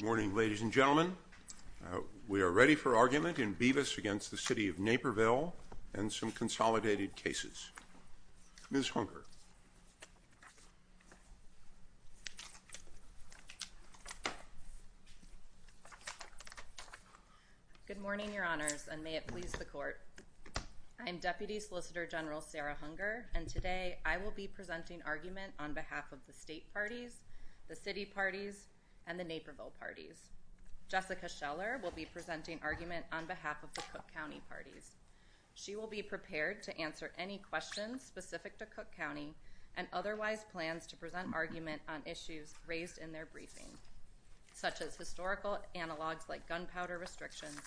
Good morning, ladies and gentlemen. We are ready for argument in Bevis v. City of Naperville and some consolidated cases. Ms. Hunker. Good morning, Your Honors, and may it please the Court. I am Deputy Solicitor General Sarah Hunker, and today I will be presenting argument on behalf of the State Parties, the City Parties, and the Naperville Parties. Jessica Scheller will be presenting argument on behalf of the Cook County Parties. She will be prepared to answer any questions specific to Cook County and otherwise plans to present argument on issues raised in their briefing, such as historical analogs like gunpowder restrictions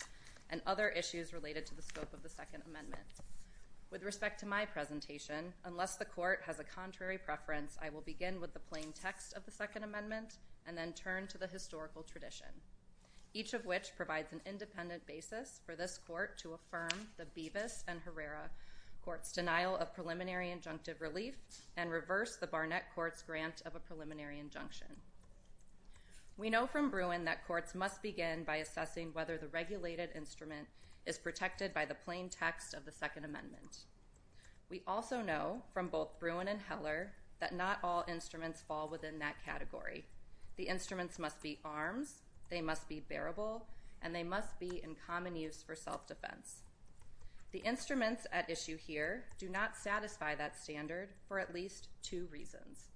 and other issues related to the scope of the Second Amendment. With respect to my presentation, unless the Court has a contrary preference, I will begin with the plain text of the Second Amendment and then turn to the historical tradition, each of which provides an independent basis for this Court to affirm the Bevis and Herrera denial of preliminary injunctive relief and reverse the Barnett Court's grant of a preliminary injunction. We know from Bruin that courts must begin by assessing whether the regulated instrument is protected by the plain text of the Second Amendment. We also know from both Bruin and Heller that not all instruments fall within that category. The instruments must be armed, they must be bearable, and they must be in common use for self-defense. The instruments at issue here do not satisfy that standard for at least two reasons.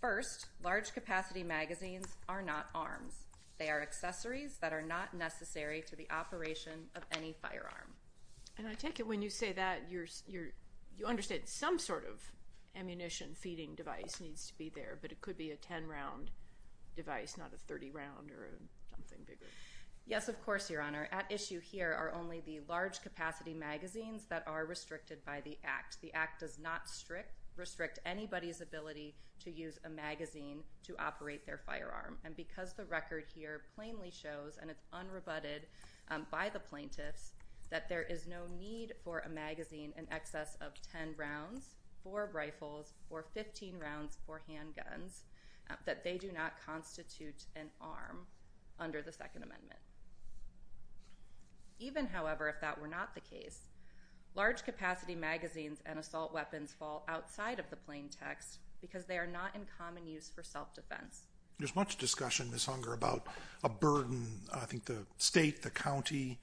First, large capacity magazines are not armed. They are accessories that are not necessary for the operation of any firearm. And I take it when you say that, you understand some sort of ammunition feeding device needs to be there, but it could be a 10-round device, not a 30-round or something bigger. Yes, of course, Your Honor. At issue here are only the large capacity magazines that are restricted by the Act. The Act does not restrict anybody's ability to use a magazine to operate their firearm. And because the record here plainly shows, and it's unrebutted by the plaintiffs, that there is no need for a magazine in excess of 10 rounds for rifles or 15 rounds for handguns, that they do not constitute an arm under the Second Amendment. Even however, if that were not the case, large capacity magazines and assault weapons fall outside of the plain text because they are not in common use for self-defense. There's much discussion, Ms. Hunger, about a burden. I think the state, the county,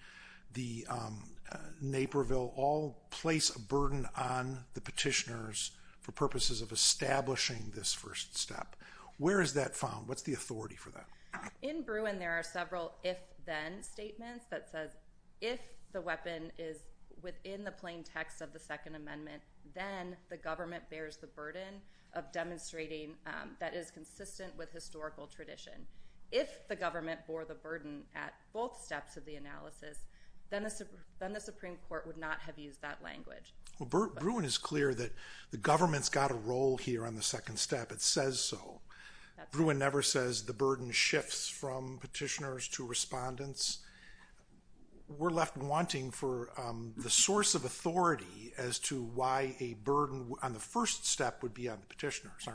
Naperville, all place a burden on the petitioners for purposes of establishing this first step. Where is that found? What's the authority for that? In Bruin, there are several if-then statements that says if the weapon is within the plain text of the Second Amendment, then the government bears the burden of demonstrating that it's consistent with historical tradition. If the government bore the burden at both steps of the analysis, then the Supreme Court would not have used that language. Well, Bruin is clear that the government's got a role here on the second step. It says so. Bruin never says the burden shifts from petitioners to respondents. We're left wanting for the source of authority as to why a burden on the first step would be on the petitioners.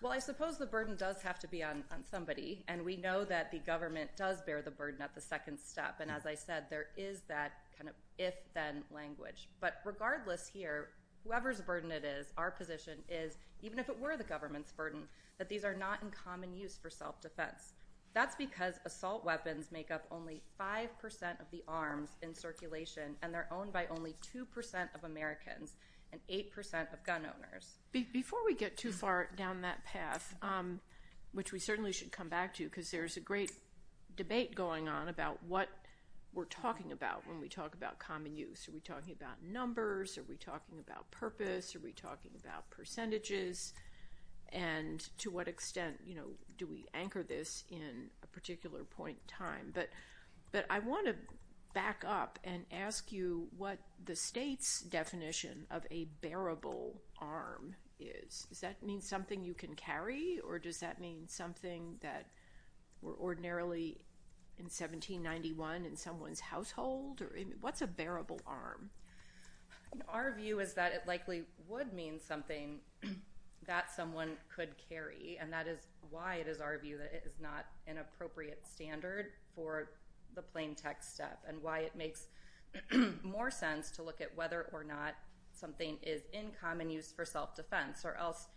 Well, I suppose the burden does have to be on somebody. And we know that the government does bear the burden at the second step. And as I said, there is that kind of if-then language. But regardless here, whoever's burden it is, our position is, even if it were the government's burden, that these are not in common use for self-defense. That's because assault weapons make up only 5% of the arms in circulation. And they're owned by only 2% of Americans and 8% of gun owners. Before we get too far down that path, which we certainly should come back to because there's a great debate going on about what we're talking about when we talk about common use. Are we talking about numbers? Are we talking about purpose? Are we talking about percentages? And to what extent do we anchor this in a particular point in time? But I want to back up and ask you what the state's definition of a bearable arm is. Does that mean something you can carry? Or does that mean something that we're ordinarily in 1791 in someone's household? What's a bearable arm? Our view is that it likely would mean something that someone could carry. And that is why it is our view that it is not an appropriate standard for the plain text step and why it makes more sense to look at whether or not something is in common use for self-defense. Or else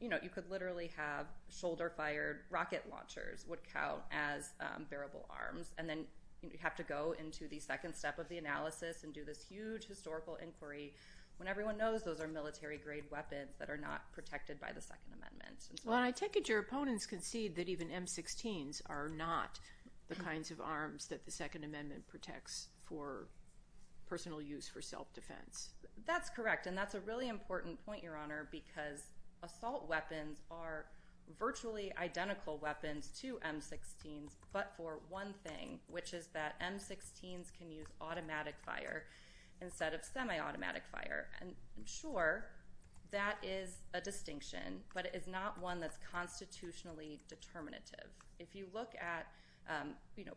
you could literally have shoulder-fired rocket launchers would count as bearable arms. And then you have to go into the second step of the analysis and do this huge historical inquiry when everyone knows those are military-grade weapons that are not protected by the Second Amendment. Well, I take it your opponents concede that even M-16s are not the kinds of arms that the Second Amendment protects for personal use for self-defense. That's correct. And that's a really important point, Your Honor, because assault weapons are virtually identical weapons to M-16s but for one thing, which is that M-16s can use automatic fire instead of semi-automatic fire. And sure, that is a distinction, but it is not one that's constitutionally determinative. If you look at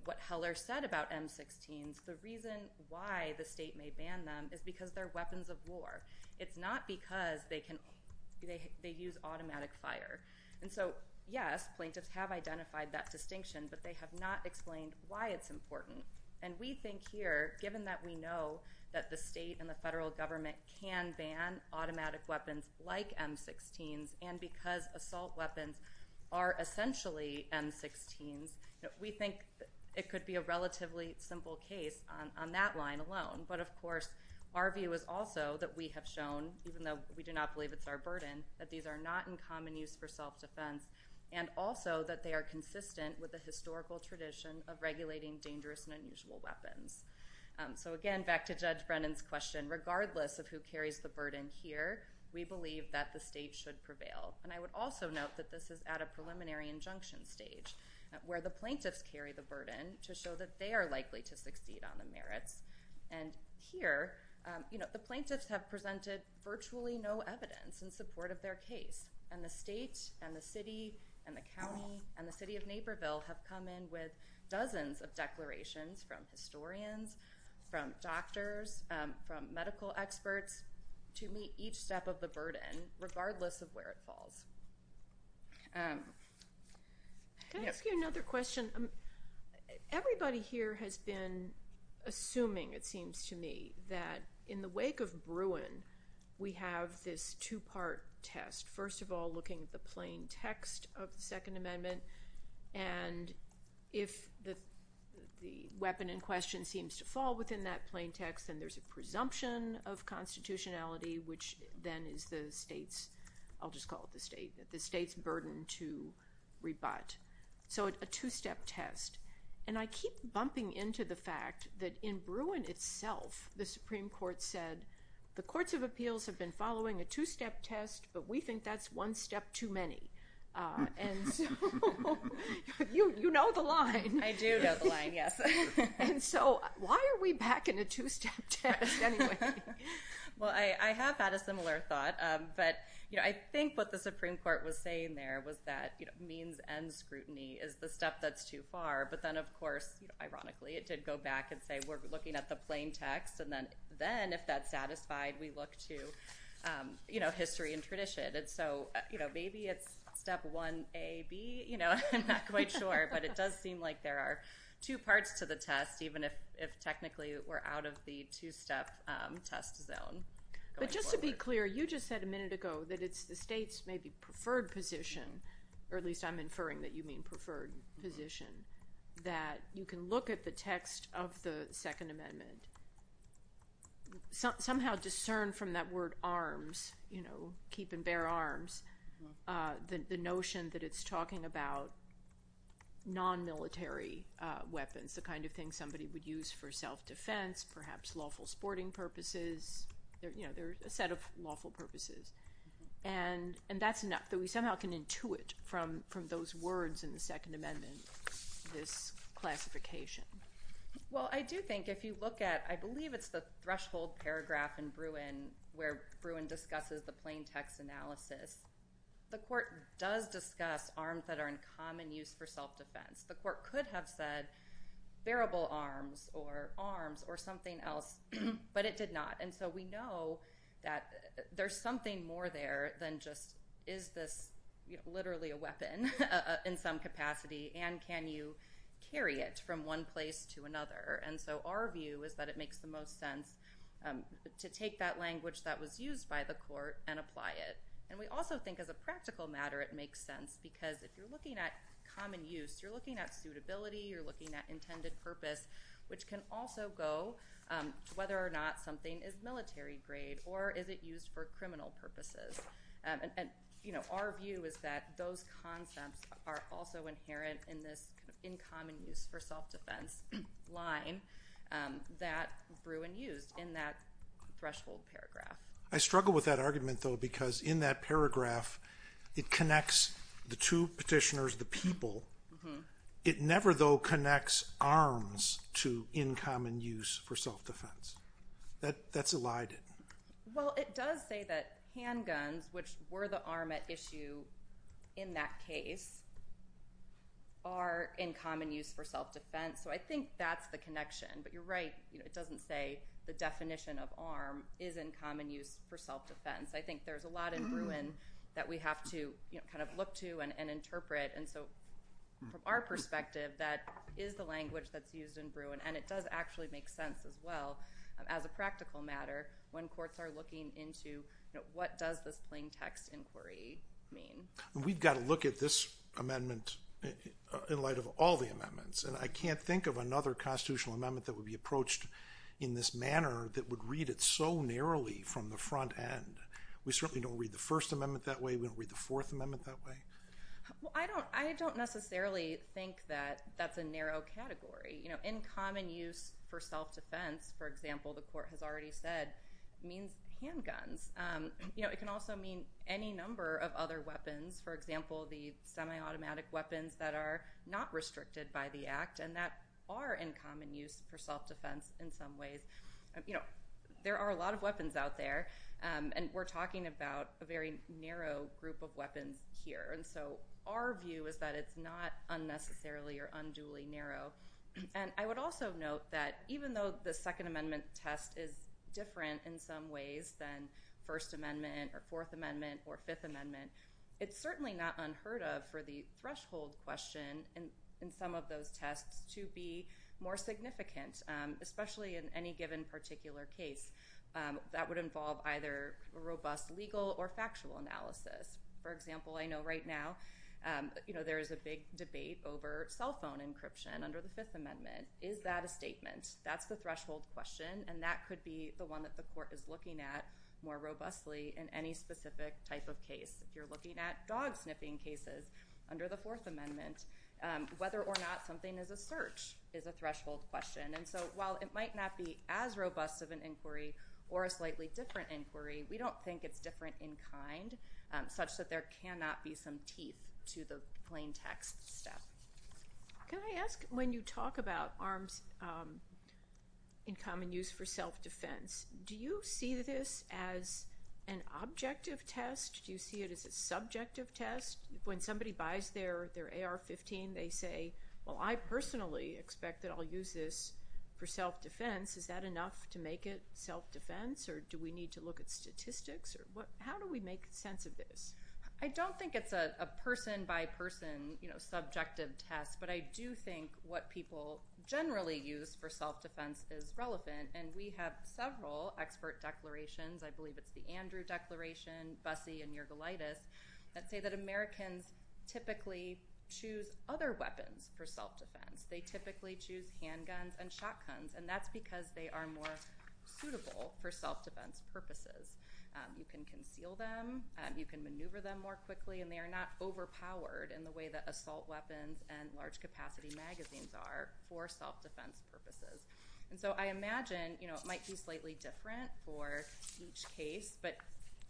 what Heller said about M-16s, the reason why the state may ban them is because they're weapons of war. It's not because they use automatic fire. And so, yes, plaintiffs have identified that distinction, but they have not explained why it's important. And we think here, given that we know that the state and the federal government can ban automatic weapons like M-16s and because assault weapons are essentially M-16s, we think it could be a relatively simple case on that line alone. But, of course, our view is also that we have shown, even though we do not believe it's our burden, that these are not in common use for self-defense and also that they are consistent with the historical tradition of regulating dangerous and unusual weapons. So, again, back to Judge Brennan's question, regardless of who carries the burden here, we believe that the state should prevail. And I would also note that this is at a preliminary injunction stage where the plaintiffs carry the burden to show that they are likely to succeed on the merits. And here, you know, the plaintiffs have presented virtually no evidence in support of their case. And the state and the city and the county and the city of Naperville have come in with dozens of declarations from historians, from doctors, from medical experts to meet each step of the burden, regardless of where it falls. Can I ask you another question? Everybody here has been assuming, it seems to me, that in the wake of Bruin, we have this two-part test. First of all, looking at the plain text of the Second Amendment, and if the weapon in question seems to fall within that plain text, then there's a presumption of constitutionality which then is the state's, I'll just call it the state, the state's burden to rebut. So it's a two-step test. And I keep bumping into the fact that in Bruin itself, the Supreme Court said, the Courts of Appeals have been following a two-step test, but we think that's one step too many. And you know the line. I do know the line, yes. And so why are we back in a two-step test anyway? Well I have had a similar thought, but I think what the Supreme Court was saying there was that means and scrutiny is the step that's too far, but then of course, ironically, it did go back and say we're looking at the plain text, and then if that's satisfied, we look to history and tradition. And so maybe it's step 1A, B? I'm not quite sure, but it does seem like there are two parts to the test, even if technically we're out of the two-step test zone. But just to be clear, you just said a minute ago that it's the state's maybe preferred position, or at least I'm inferring that you mean preferred position, that you can look at the text of the Second Amendment, somehow discern from that word arms, you know, keep and bear arms, the notion that it's talking about non-military weapons, the kind of thing somebody would use for self-defense, perhaps lawful sporting purposes, you know, there's a set of lawful purposes. And that's enough that we somehow can intuit from those words in the Second Amendment, this classification. Well I do think if you look at, I believe it's the threshold paragraph in Bruin where Bruin discusses the plain text analysis, the court does discuss arms that are in common use for self-defense. The court could have said bearable arms or arms or something else, but it did not. And so we know that there's something more there than just is this literally a weapon in some capacity and can you carry it from one place to another. And so our view is that it makes the most sense to take that language that was used by the court and apply it. And we also think as a practical matter it makes sense because if you're looking at common use, you're looking at suitability, you're looking at intended purpose, which can also go whether or not something is military grade or is it used for criminal purposes. And our view is that those concepts are also inherent in this in common use for self-defense line that Bruin used in that threshold paragraph. I struggle with that argument though because in that paragraph it connects the two petitioners, the people, it never though connects arms to in common use for self-defense. That's a lie. Well, it does say that handguns, which were the arm at issue in that case, are in common use for self-defense. So I think that's the connection. But you're right, it doesn't say the definition of arm is in common use for self-defense. I think there's a lot in Bruin that we have to kind of look to and interpret. And so from our perspective that is the language that's used in Bruin and it does actually make sense as well as a practical matter when courts are looking into what does this plain text inquiry mean. We've got to look at this amendment in light of all the amendments. And I can't think of another constitutional amendment that would be approached in this We certainly don't read the First Amendment that way. We don't read the Fourth Amendment that way. I don't necessarily think that that's a narrow category. In common use for self-defense, for example, the court has already said, means handguns. It can also mean any number of other weapons. For example, the semi-automatic weapons that are not restricted by the act and that are in common use for self-defense in some ways. There are a lot of weapons out there. And we're talking about a very narrow group of weapons here. And so our view is that it's not unnecessarily or unduly narrow. And I would also note that even though the Second Amendment test is different in some ways than First Amendment or Fourth Amendment or Fifth Amendment, it's certainly not unheard of for the threshold question in some of those tests to be more significant, especially in any given particular case. That would involve either robust legal or factual analysis. For example, I know right now there is a big debate over cell phone encryption under the Fifth Amendment. Is that a statement? That's the threshold question. And that could be the one that the court is looking at more robustly in any specific type of case. If you're looking at dog sniffing cases under the Fourth Amendment, whether or not something is a search is a threshold question. And so while it might not be as robust of an inquiry or a slightly different inquiry, we don't think it's different in kind such that there cannot be some teeth to the plain text stuff. Can I ask, when you talk about arms in common use for self-defense, do you see this as an objective test? Do you see it as a subjective test? When somebody buys their AR-15, they say, well, I personally expect that I'll use this for self-defense. Is that enough to make it self-defense? Or do we need to look at statistics? How do we make sense of this? I don't think it's a person-by-person subjective test. But I do think what people generally use for self-defense is relevant. And we have several expert declarations. I believe it's the Andrew Declaration, Bussey, and Nergalaitis that say that Americans should typically choose other weapons for self-defense. They typically choose handguns and shotguns. And that's because they are more suitable for self-defense purposes. You can conceal them. You can maneuver them more quickly. And they are not overpowered in the way that assault weapons and large capacity magazines are for self-defense purposes. So I imagine it might be slightly different for each case. But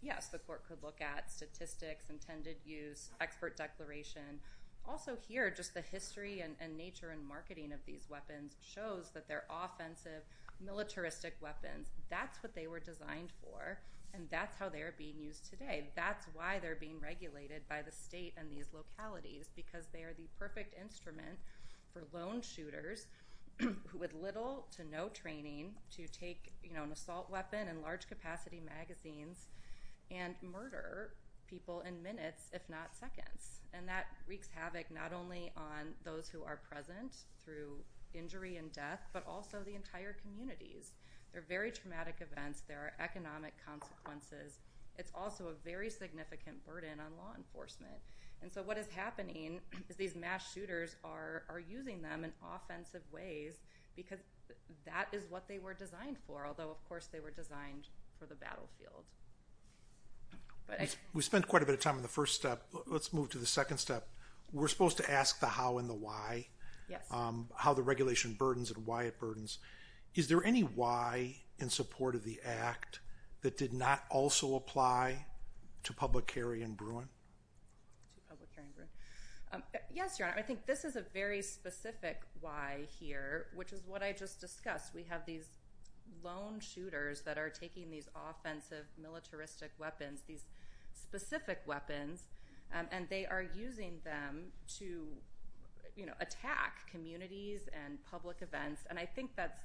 yes, the court could look at statistics, intended use, expert declaration. Also here, just the history and nature and marketing of these weapons shows that they're offensive, militaristic weapons. That's what they were designed for. And that's how they are being used today. That's why they're being regulated by the state and these localities, because they are the perfect instrument for lone shooters with little to no training to take an assault weapon and large capacity magazines and murder people in minutes, if not seconds. And that wreaks havoc not only on those who are present through injury and death, but also the entire communities. They're very traumatic events. There are economic consequences. It's also a very significant burden on law enforcement. And so what is happening is these mass shooters are using them in offensive ways because that is what they were designed for, although, of course, they were designed for the battlefield. We spent quite a bit of time on the first step. Let's move to the second step. We're supposed to ask the how and the why, how the regulation burdens and why it burdens. Is there any why in support of the act that did not also apply to public carry in Bruin? Yes, Your Honor. I think this is a very specific why here, which is what I just discussed. We have these lone shooters that are taking these offensive militaristic weapons, these specific weapons, and they are using them to, you know, attack communities and public events. And I think that's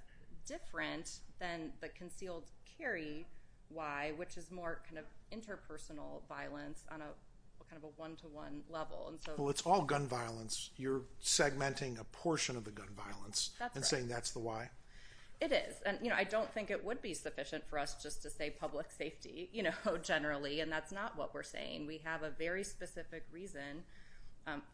different than the concealed carry why, which is more kind of interpersonal violence on a kind of a one-to-one level. Well, it's all gun violence. You're segmenting a portion of the gun violence and saying that's the why? It is. I don't think it would be sufficient for us just to say public safety, you know, generally. And that's not what we're saying. We have a very specific reason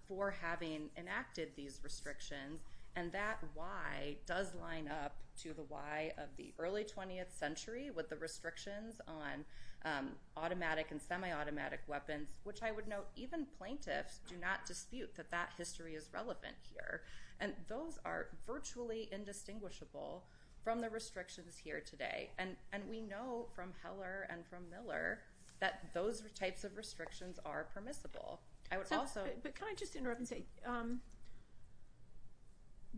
for having enacted these restrictions. And that why does line up to the why of the early 20th century with the restrictions on automatic and semi-automatic weapons, which I would note even plaintiffs do not dispute that that history is relevant here. And those are virtually indistinguishable from the restrictions here today. And we know from Heller and from Miller that those types of restrictions are permissible. Can I just interrupt and say,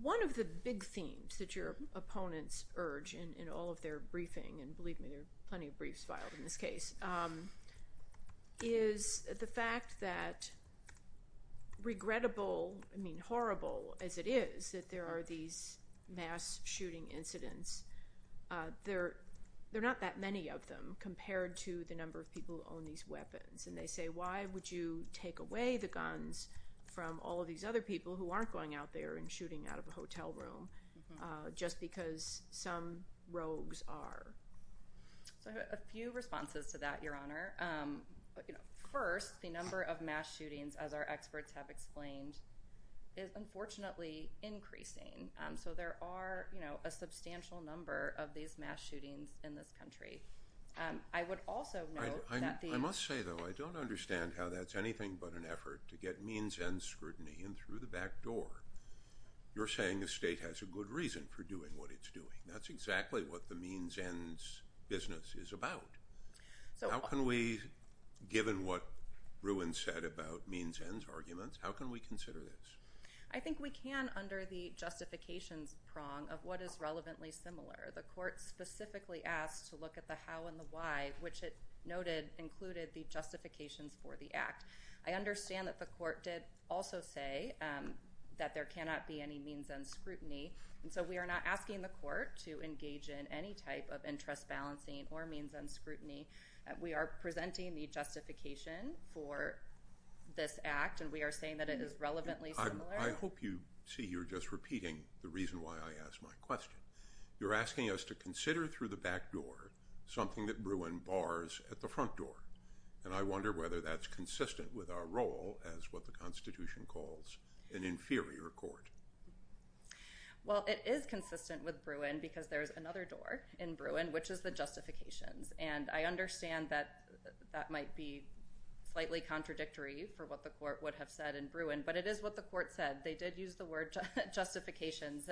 one of the big themes that your opponents urge in all of their briefing, and believe me, there's plenty of briefs filed in this case, is the fact that regrettable, I mean, horrible as it is that there are these mass shooting incidents, there are not that many of them compared to the number of people who own these weapons. And they say, why would you take away the guns from all of these other people who aren't going out there and shooting out of a hotel room just because some rogues are? A few responses to that, Your Honor. First, the number of mass shootings other experts have explained is unfortunately increasing. So there are a substantial number of these mass shootings in this country. I would also note that the... I must say, though, I don't understand how that's anything but an effort to get means ends scrutiny in through the back door. You're saying the state has a good reason for doing what it's doing. That's exactly what the means ends business is about. How can we, given what Ruin said about means ends arguments, how can we consider this? I think we can under the justification prong of what is relevantly similar. The court specifically asked to look at the how and the why, which it noted included the justification for the act. I understand that the court did also say that there cannot be any means ends scrutiny. So we are not asking the court to engage in any type of interest balancing or means ends scrutiny. We are presenting the justification for this act, and we are saying that it is relevantly similar. I hope you see you're just repeating the reason why I asked my question. You're asking us to consider through the back door something that ruined bars at the front door. I wonder whether that's consistent with our role as what the Constitution calls an inferior court. Well, it is consistent with Bruin because there's another door in Bruin, which is the justifications. I understand that that might be slightly contradictory for what the court would have said in Bruin, but it is what the court said. They did use the word justifications.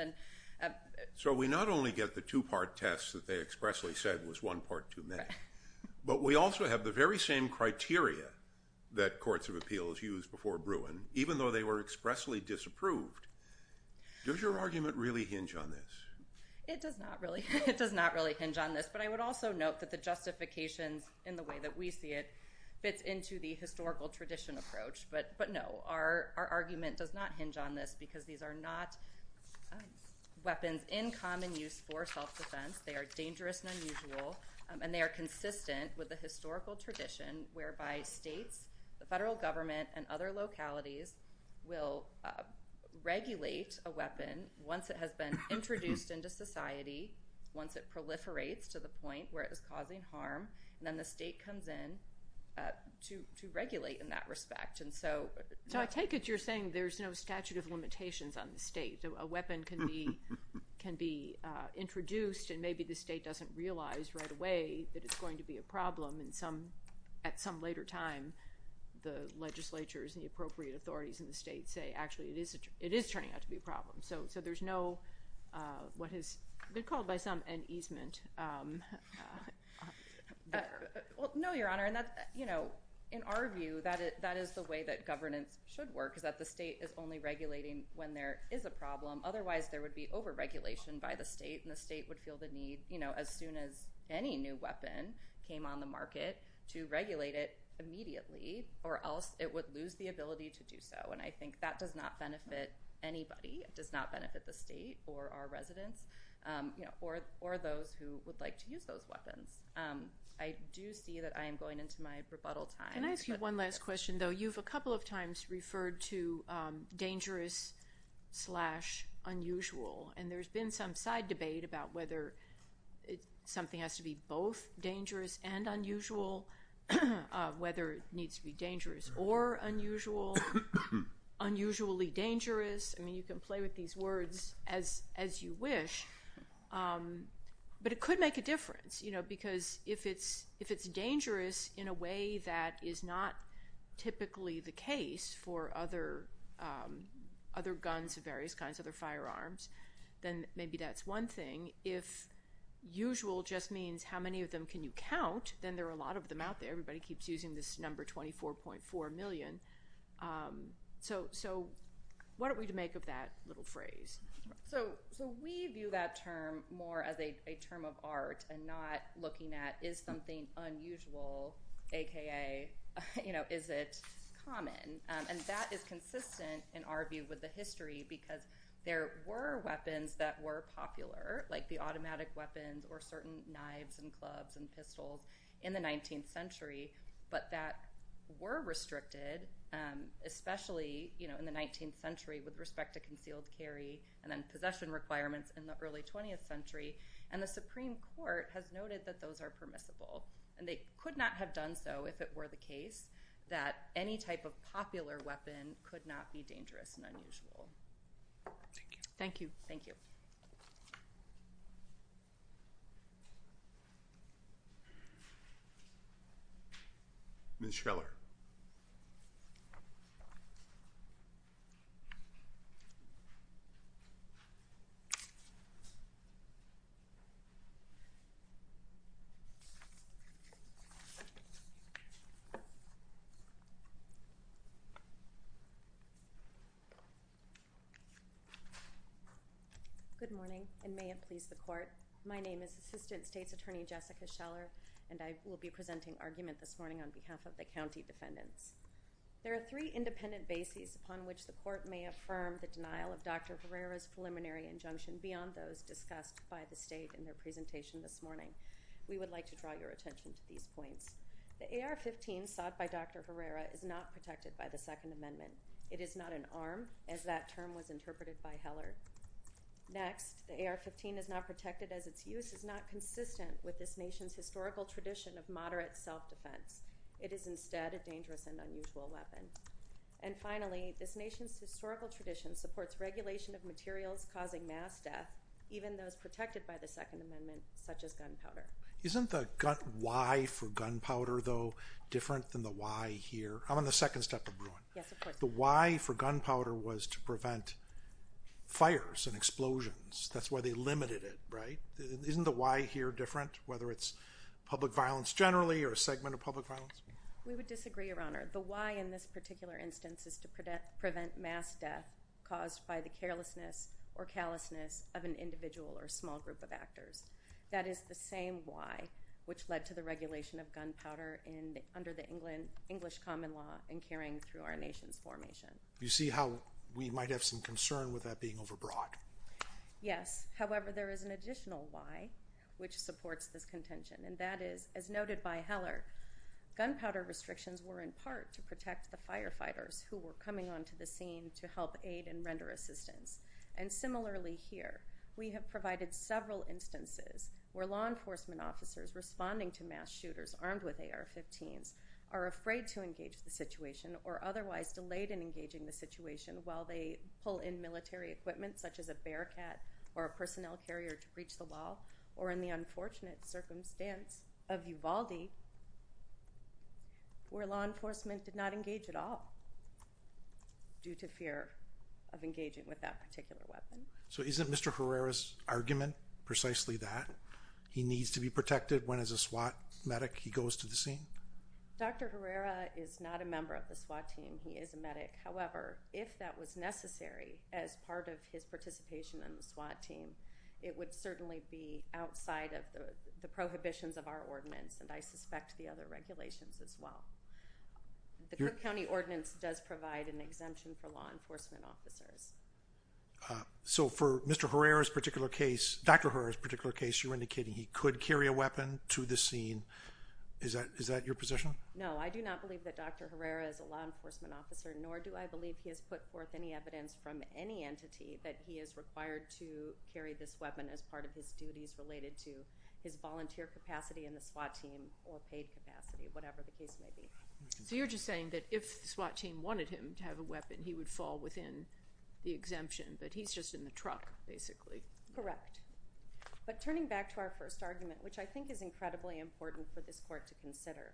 So we not only get the two-part test that they expressly said was one court too many, but we also have the very same criteria that courts of appeals used before Bruin, even though they were expressly disapproved. Does your argument really hinge on this? It does not really hinge on this, but I would also note that the justification in the way that we see it fits into the historical tradition approach. But no, our argument does not hinge on this because these are not weapons in common use for self-defense. They are dangerous and unusual, and they are consistent with the historical tradition whereby states, the federal government, and other localities will regulate a weapon once it has been introduced into society, once it proliferates to the point where it is causing harm, and then the state comes in to regulate in that respect. So I take it you're saying there's no statute of limitations on the state. So a weapon can be introduced, and maybe the state doesn't realize right away that it's going to be a problem, and at some later time, the legislatures and the appropriate authorities in the state say, actually, it is turning out to be a problem. So there's no what has been called by some an easement. No, Your Honor. In our view, that is the way that governance should work, is that the state is only regulating when there is a problem. Otherwise, there would be overregulation by the state, and the state would feel the need as soon as any new weapon came on the market to regulate it immediately, or else it would lose the ability to do so. And I think that does not benefit anybody. It does not benefit the state or our residents or those who would like to use those weapons. I do see that I am going into my rebuttal time. Can I ask you one last question, though? You know, you've a couple of times referred to dangerous slash unusual, and there's been some side debate about whether something has to be both dangerous and unusual, whether it needs to be dangerous or unusual, unusually dangerous. I mean, you can play with these words as you wish, but it could make a difference, you typically the case for other guns of various kinds, other firearms, then maybe that's one thing. If usual just means how many of them can you count, then there are a lot of them out there. Everybody keeps using this number, 24.4 million. So what are we to make of that little phrase? So we view that term more as a term of art and not looking at is something unusual, a.k.a., you know, is it common? And that is consistent in our view with the history because there were weapons that were popular, like the automatic weapons or certain knives and clubs and pistols in the 19th century, but that were restricted, especially, you know, in the 19th century with respect to concealed carry and then possession requirements in the early 20th century. And the Supreme Court has noted that those are permissible. And they could not have done so if it were the case that any type of popular weapon could not be dangerous and unusual. Thank you. Thank you. Thank you. Ms. Schreller. Ms. Schreller. Good morning and may it please the Court. My name is Assistant State's Attorney Jessica Schreller and I will be presenting arguments this morning on behalf of the county defendants. There are three independent bases upon which the Court may affirm the denial of Dr. Herrera's preliminary injunction beyond those discussed by the State in their presentation this morning. We would like to draw your attention to these points. The AR-15 sought by Dr. Herrera is not protected by the Second Amendment. It is not an arm as that term was interpreted by Heller. Next, the AR-15 is not protected as its use is not consistent with this nation's historical tradition of moderate self-defense. It is instead a dangerous and unusual weapon. And finally, this nation's historical tradition supports regulation of materials causing mass death even though it's protected by the Second Amendment such as gunpowder. Isn't the why for gunpowder, though, different than the why here? I'm on the second step of Bruin. Yes, of course. The why for gunpowder was to prevent fires and explosions. That's why they limited it, right? Isn't the why here different, whether it's public violence generally or a segment of public violence? We would disagree, Your Honor. The why in this particular instance is to prevent mass death caused by the carelessness or callousness of an individual or small group of actors. That is the same why which led to the regulation of gunpowder under the English common law and carrying through our nation's formation. You see how we might have some concern with that being overbroad. Yes. However, there is an additional why which supports this contention, and that is, as noted by Heller, gunpowder restrictions were in part to protect the firefighters who were coming onto the scene to help aid and render assistance. And similarly here, we have provided several instances where law enforcement officers responding to mass shooters armed with AR-15 are afraid to engage the situation or otherwise delayed in engaging the situation while they pull in military equipment such as a bear cat or a personnel carrier to breach the wall, or in the unfortunate circumstance of Uvalde where law enforcement did not engage at all due to fear of engaging with that particular weapon. So isn't Mr. Herrera's argument precisely that? He needs to be protected when as a SWAT medic he goes to the scene? Dr. Herrera is not a member of the SWAT team. He is a medic. However, if that was necessary as part of his participation in the SWAT team, it would certainly be outside of the prohibitions of our ordinance, and I suspect the other regulations as well. The Duke County ordinance does provide an exemption for law enforcement officers. So for Mr. Herrera's particular case, Dr. Herrera's particular case, you're indicating he could carry a weapon to the scene. Is that your position? No. I do not believe that Dr. Herrera is a law enforcement officer, nor do I believe he has put forth any evidence from any entity that he is required to carry this weapon as part of his duties related to his volunteer capacity in the SWAT team or state capacity, whatever the case may be. So you're just saying that if the SWAT team wanted him to have a weapon, he would fall within the exemption, that he's just in the truck basically? Correct. But turning back to our first argument, which I think is incredibly important for this court to consider,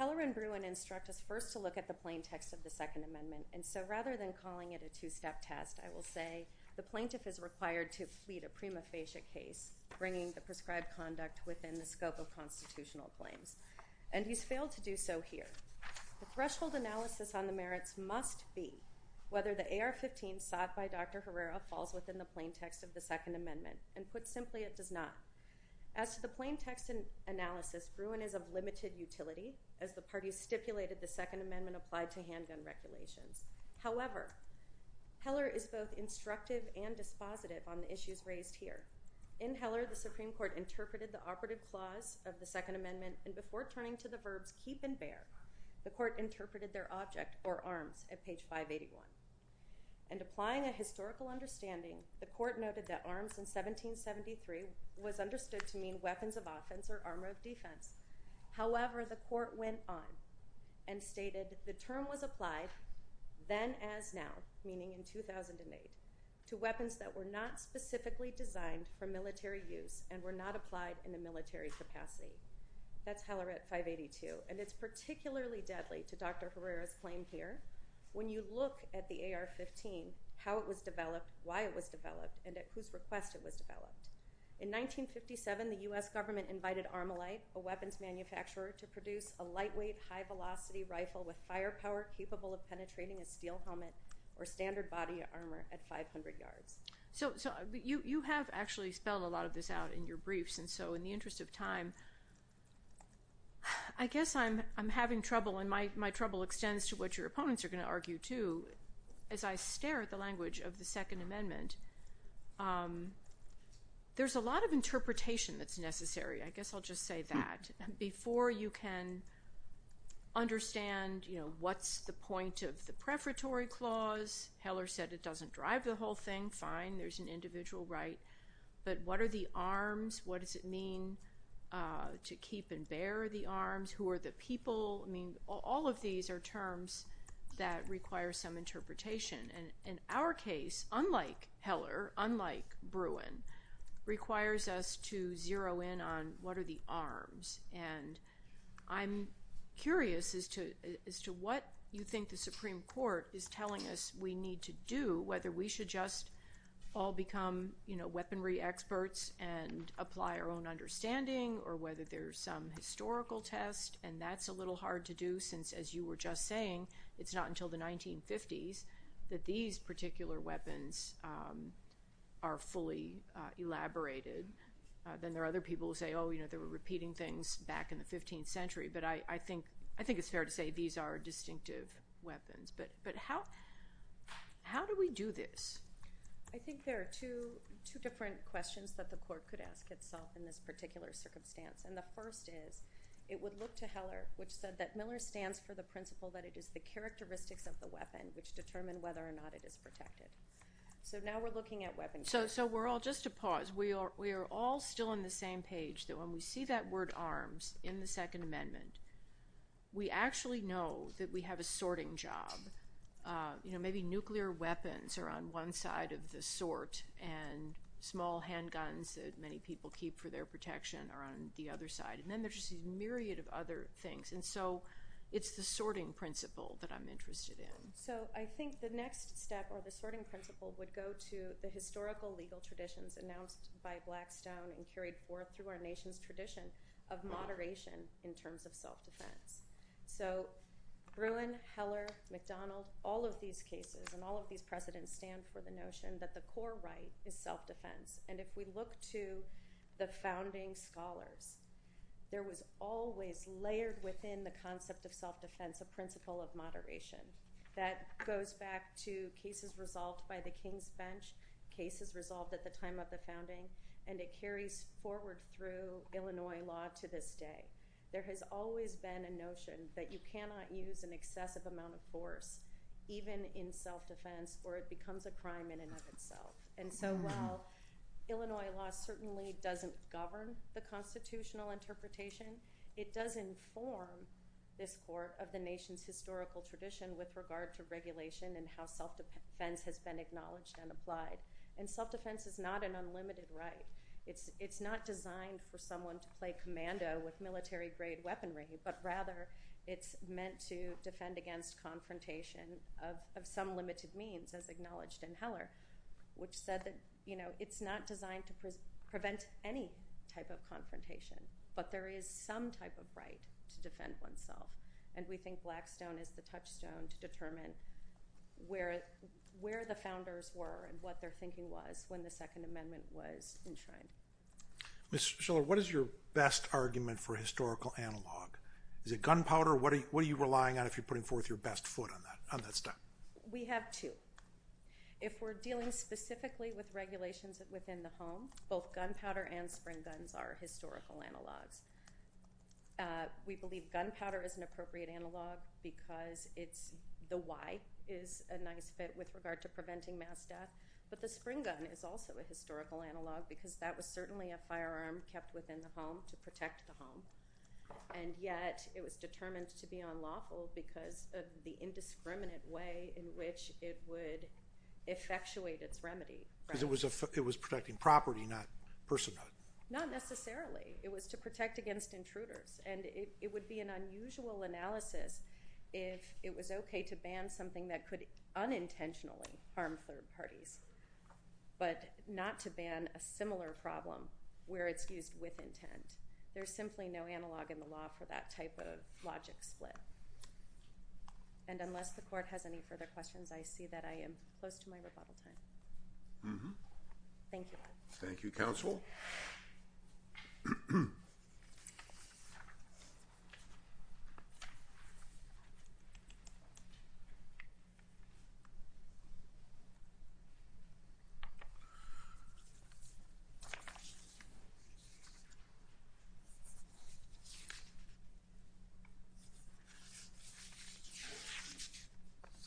Helleran-Bruin instructed us first to look at the plain text of the Second Amendment, and so rather than calling it a two-step test, I will say the plaintiff is required to complete a prima facie case, bringing the prescribed conduct within the scope of constitutional claims. And he's failed to do so here. The threshold analysis on the merits must be whether the AR-15 spot by Dr. Herrera falls within the plain text of the Second Amendment. And put simply, it does not. As to the plain text analysis, Bruin is of limited utility, as the parties stipulated the Second Amendment applied to hands and regulations. However, Heller is both instructive and dispositive on the issues raised here. In Heller, the Supreme Court interpreted the operative clause of the Second Amendment, and before turning to the verb keep and bear, the court interpreted their object or arm at page 581. And applying a historical understanding, the court noted that arms in 1773 was understood to mean weapons of offense or armor of defense. However, the court went on and stated the term was applied then as now, meaning in 2008, to weapons that were not specifically designed for military use and were not applied in the military capacity. That's Heller at 582. And it's particularly deadly, to Dr. Herrera's claim here, when you look at the AR-15, how it was developed, why it was developed, and at whose request it was developed. In 1957, the U.S. government invited Armolite, a weapons manufacturer, to produce a lightweight, high-velocity rifle with firepower capable of penetrating a steel helmet or standard body armor at 500 yards. So you have actually spelled a lot of this out in your briefs, and so in the interest of time, I guess I'm having trouble, and my trouble extends to what your opponents are going to argue, too. As I stare at the language of the Second Amendment, there's a lot of interpretation that's necessary. I guess I'll just say that. Before you can understand what's the point of the prefatory clause, Heller said it doesn't drive the whole thing. Fine. There's an individual right. But what are the arms? What does it mean to keep and bear the arms? Who are the people? I mean, all of these are terms that require some interpretation. And in our case, unlike Heller, unlike Bruin, requires us to zero in on what are the arms. And I'm curious as to what you think the Supreme Court is telling us we need to do, whether we should just all become weaponry experts and apply our own understanding or whether there's some historical test, and that's a little hard to do since, as you were just saying, it's not until the 1950s that these particular weapons are fully elaborated. Then there are other people who say, oh, you know, they were repeating things back in the 15th century. But I think it's fair to say these are distinctive weapons. But how do we do this? I think there are two different questions that the court could ask itself in this particular circumstance. And the first is, it would look to Heller, which said that Miller stands for the principle that it is the characteristics of the weapon which determine whether or not it is protected. So now we're looking at weaponry. So we're all, just to pause, we are all still on the same page that when we see that word arms in the Second Amendment, we actually know that we have a sorting job. You know, maybe nuclear weapons are on one side of the sort and small handguns that many people keep for their protection are on the other side. And then there's just a myriad of other things. And so it's the sorting principle that I'm interested in. So I think the next step of the sorting principle would go to the historical legal traditions announced by Blackstone and carried forth through our nation's tradition of moderation in terms of self-defense. So Gruen, Heller, McDonald, all of these cases and all of these presidents stand for the notion that the core right is self-defense. And if we look to the founding scholars, there was always layered within the concept of self-defense the principle of moderation. That goes back to cases resolved by the King's bench, cases resolved at the time of the founding, and it carries forward through Illinois law to this day. There has always been a notion that you cannot use an excessive amount of force, even in self-defense, or it becomes a crime in and of itself. And so while Illinois law certainly doesn't govern the constitutional interpretation, it does inform this part of the nation's historical tradition with regard to regulation and how self-defense has been acknowledged and applied. And self-defense is not an unlimited right. It's not designed for someone to play commando with military-grade weaponry, but rather it's meant to defend against confrontation of some limited means, as acknowledged in Heller, which said that it's not designed to prevent any type of confrontation. But there is some type of right to defend oneself. And we think Blackstone is the touchstone to determine where the founders were and what their thinking was when the Second Amendment was enshrined. So what is your best argument for historical analog? Is it gunpowder? What are you relying on if you're putting forth your best foot on that stuff? We have two. If we're dealing specifically with regulations within the home, both gunpowder and spring gun are historical analogs. We believe gunpowder is an appropriate analog because the Y is a nice fit with regard to preventing mass death, but the spring gun is also a historical analog because that was certainly a firearm kept within the home to protect the home. And yet it was determined to be unlawful because of the indiscriminate way in which it would effectuate its remedy. It was protecting property, not personhood. Not necessarily. It was to protect against intruders. And it would be an unusual analysis if it was okay to ban something that could unintentionally harm third parties, but not to ban a similar problem where it's used with intent. There's simply no analog in the law for that type of logic split. And unless the court has any further questions, I see that I am close to my rebuttal time. Thank you. Thank you, counsel.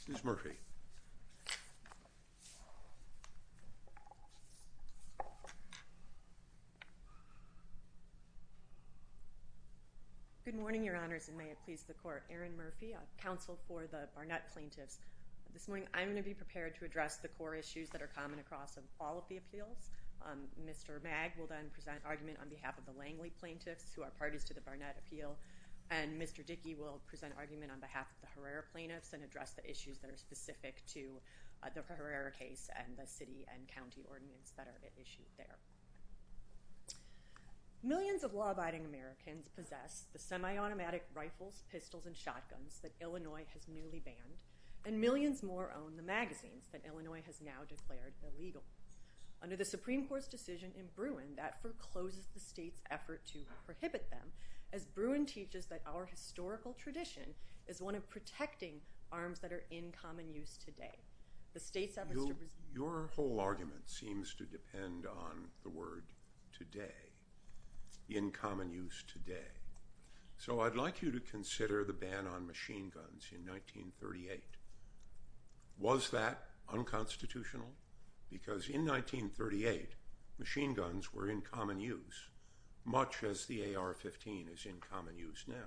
Ms. Murphy. Good morning, your honors, and may it please the court. Erin Murphy, counsel for the Barnett plaintiffs. This morning I'm going to be prepared to address the four issues that are common across all of the appeals. Mr. Mag will then present argument on behalf of the Langley plaintiffs who are parties to the Barnett appeal, and Mr. Dickey will present argument on behalf of the Herrera plaintiffs and address the issues that are specific to the Herrera case and the city and county ordinance that are issued there. Millions of law-abiding Americans possess the semi-automatic rifles, pistols, and shotguns that Illinois has newly banned, and millions more own the magazines that Illinois has now declared illegal. Under the Supreme Court's decision in Bruin, that forecloses the state's effort to prohibit them, as Bruin teaches that our historical tradition is one of protecting arms that are in common use today. Your whole argument seems to depend on the word today, in common use today. So I'd like you to consider the ban on machine guns in 1938. Was that unconstitutional? Because in 1938, machine guns were in common use, much as the AR-15 is in common use now.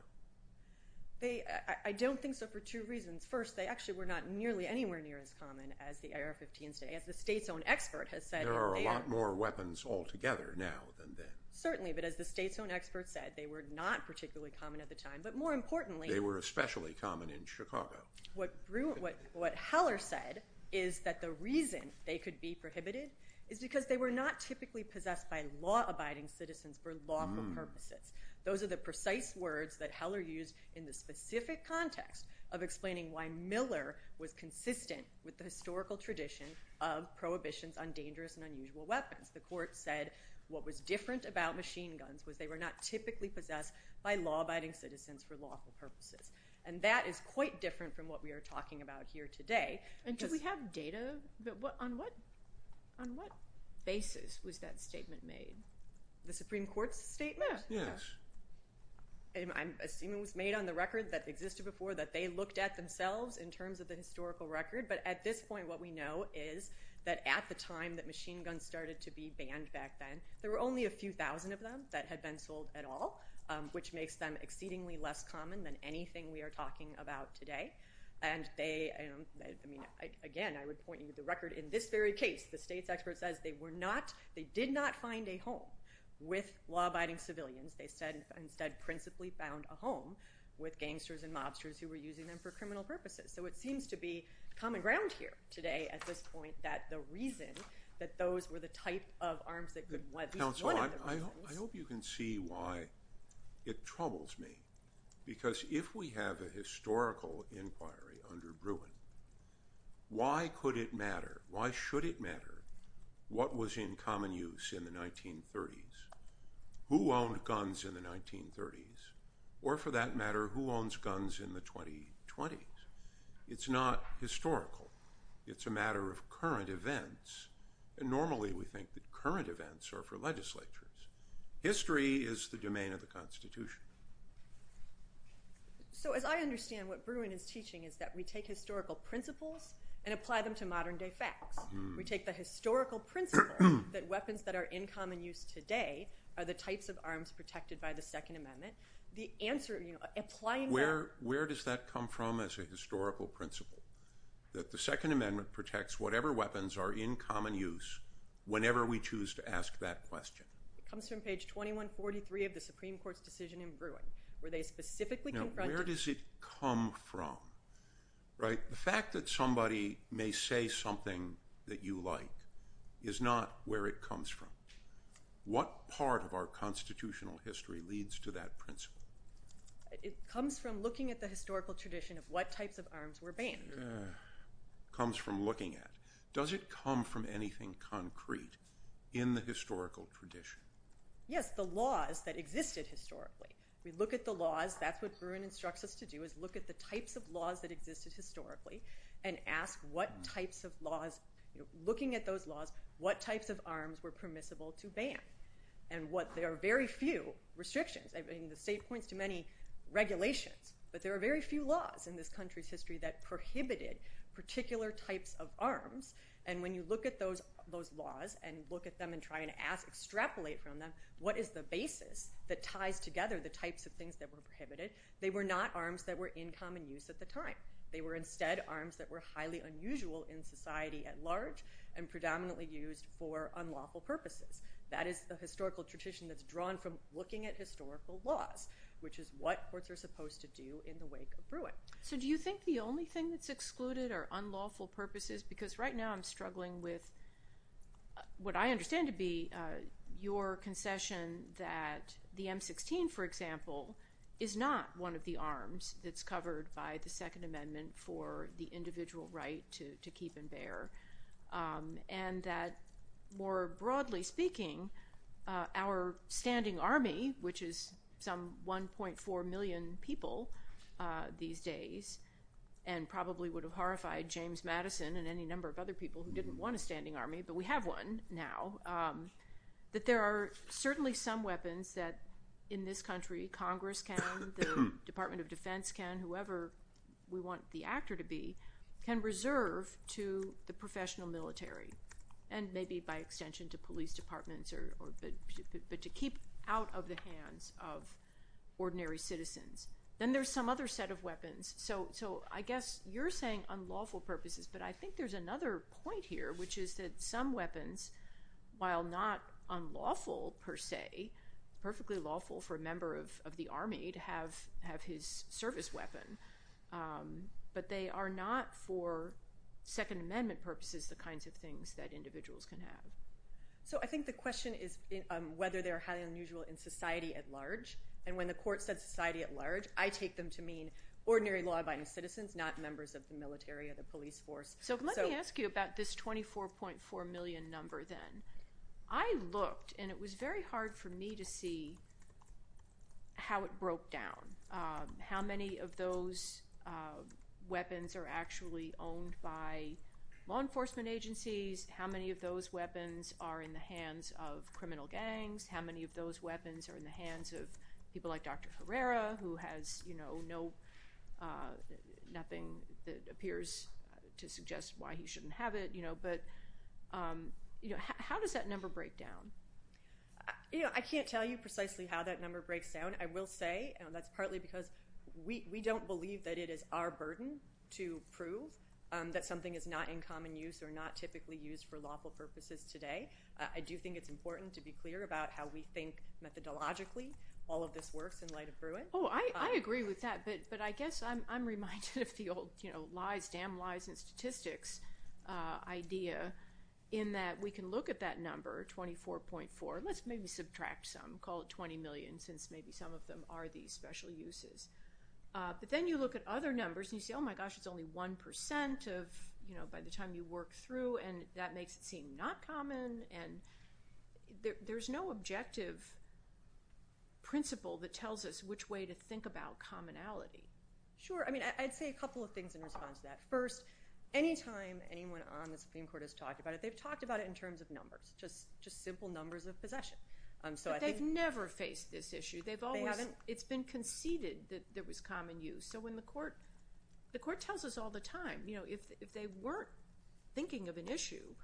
I don't think so for two reasons. First, they actually were not nearly anywhere near as common as the AR-15s. As the state's own expert has said... There are a lot more weapons altogether now than then. Certainly, but as the state's own expert said, they were not particularly common at the time. But more importantly... They were especially common in Chicago. What Heller said is that the reason they could be prohibited is because they were not typically possessed by law-abiding citizens for lawful purposes. Those are the precise words that Heller used in the specific context of explaining why Miller was consistent with the historical tradition of prohibitions on dangerous and unusual weapons. The court said what was different about machine guns was they were not typically possessed by law-abiding citizens for lawful purposes. That is quite different from what we are talking about here today. Do we have data? On what basis was that statement made? The Supreme Court's statement? Yes. I'm assuming it was made on the record that existed before that they looked at themselves in terms of the historical record. But at this point, what we know is that at the time that machine guns started to be banned back then, there were only a few thousand of them that had been sold at all, which makes them exceedingly less common than anything we are talking about today. And they... Again, I would point you to the record. In this very case, the state's expert says they did not find a home with law-abiding civilians. They said principally found a home with gangsters and mobsters who were using them for criminal purposes. So it seems to be common ground here today at this point that the reason that those were the type of arms that could be used... Counselor, I hope you can see why it troubles me. Because if we have a historical inquiry under Bruin, why could it matter? Why should it matter what was in common use in the 1930s? Who owned guns in the 1930s? Or for that matter, who owns guns in the 2020s? It's not historical. It's a matter of current events. And normally we think that current events are for legislators. History is the domain of the Constitution. So as I understand, what Bruin is teaching is that we take historical principles and apply them to modern day facts. We take the historical principle that weapons that are in common use today are the types of arms protected by the Second Amendment. The answer... Where does that come from as a historical principle? That the Second Amendment protects whatever weapons are in common use whenever we choose to ask that question. It comes from page 2143 of the Supreme Court's decision in Bruin. Where they specifically... Now, where does it come from? Right? The fact that somebody may say something that you like is not where it comes from. What part of our constitutional history leads to that principle? It comes from looking at the historical tradition of what types of arms were banned. Comes from looking at it. Does it come from anything concrete in the historical tradition? Yes, the laws that existed historically. We look at the laws. That's what Bruin instructs us to do is look at the types of laws that existed historically and ask what types of laws... Looking at those laws, what types of arms were permissible to ban? And what... There are very few restrictions. The state points to many regulations. But there are very few laws in this country's history that prohibited particular types of arms. And when you look at those laws and you look at them and try to extrapolate from them, what is the basis that ties together the types of things that were prohibited? They were not arms that were in common use at the time. They were instead arms that were highly unusual in society at large and predominantly used for unlawful purposes. That is the historical tradition that's drawn from looking at historical laws. Which is what courts are supposed to do in the wake of Bruin. So do you think the only thing that's excluded are unlawful purposes? Because right now I'm struggling with what I understand to be your concession that the M-16, for example, is not one of the arms that's covered by the Second Amendment for the individual right to keep and bear. And that more broadly speaking, our standing army, which is some 1.4 million people these days, and probably would have horrified James Madison and any number of other people who didn't want a standing army, but we have one now, that there are certainly some weapons that in this country Congress can, the Department of Defense can, whoever we want the actor to be, can reserve to the professional military. And maybe by extension to police departments, but to keep out of the hands of ordinary citizens. Then there's some other set of weapons. So I guess you're saying unlawful purposes, but I think there's another point here, which is that some weapons, while not unlawful per se, perfectly lawful for a member of the Army to have his service weapon, but they are not for Second Amendment purposes the kinds of things that individuals can have. So I think the question is whether they're highly unusual in society at large. And when the court said society at large, I take them to mean ordinary law-abiding citizens, not members of the military or the police force. So let me ask you about this 24.4 million number then. I looked, and it was very hard for me to see how it broke down. How many of those weapons are actually owned by law enforcement agencies? How many of those weapons are in the hands of criminal gangs? How many of those weapons are in the hands of people like Dr. Ferreira, who has nothing that appears to suggest why he shouldn't have it? How does that number break down? I can't tell you precisely how that number breaks down. I will say, and that's partly because we don't believe that it is our burden to prove that something is not in common use or not typically used for lawful purposes today. I do think it's important to be clear about how we think methodologically all of this works in light of Bruins. I agree with that, but I guess I'm reminded of the old lies, damn lies and statistics idea in that we can look at that number, 24.4, let's maybe subtract some, call it 20 million since maybe some of them are these special uses. But then you look at other numbers and you say, oh my gosh, it's only 1% by the time you work through, and that makes it seem not common. There's no objective principle that tells us which way to think about commonality. Sure, I'd say a couple of things in response to that. First, anytime anyone on the Supreme Court has talked about it, they've talked about it in terms of numbers, just simple numbers of possession. But they've never faced this issue. It's been conceded that it was common use. So when the court, the court tells us all the time, if they weren't thinking of an issue,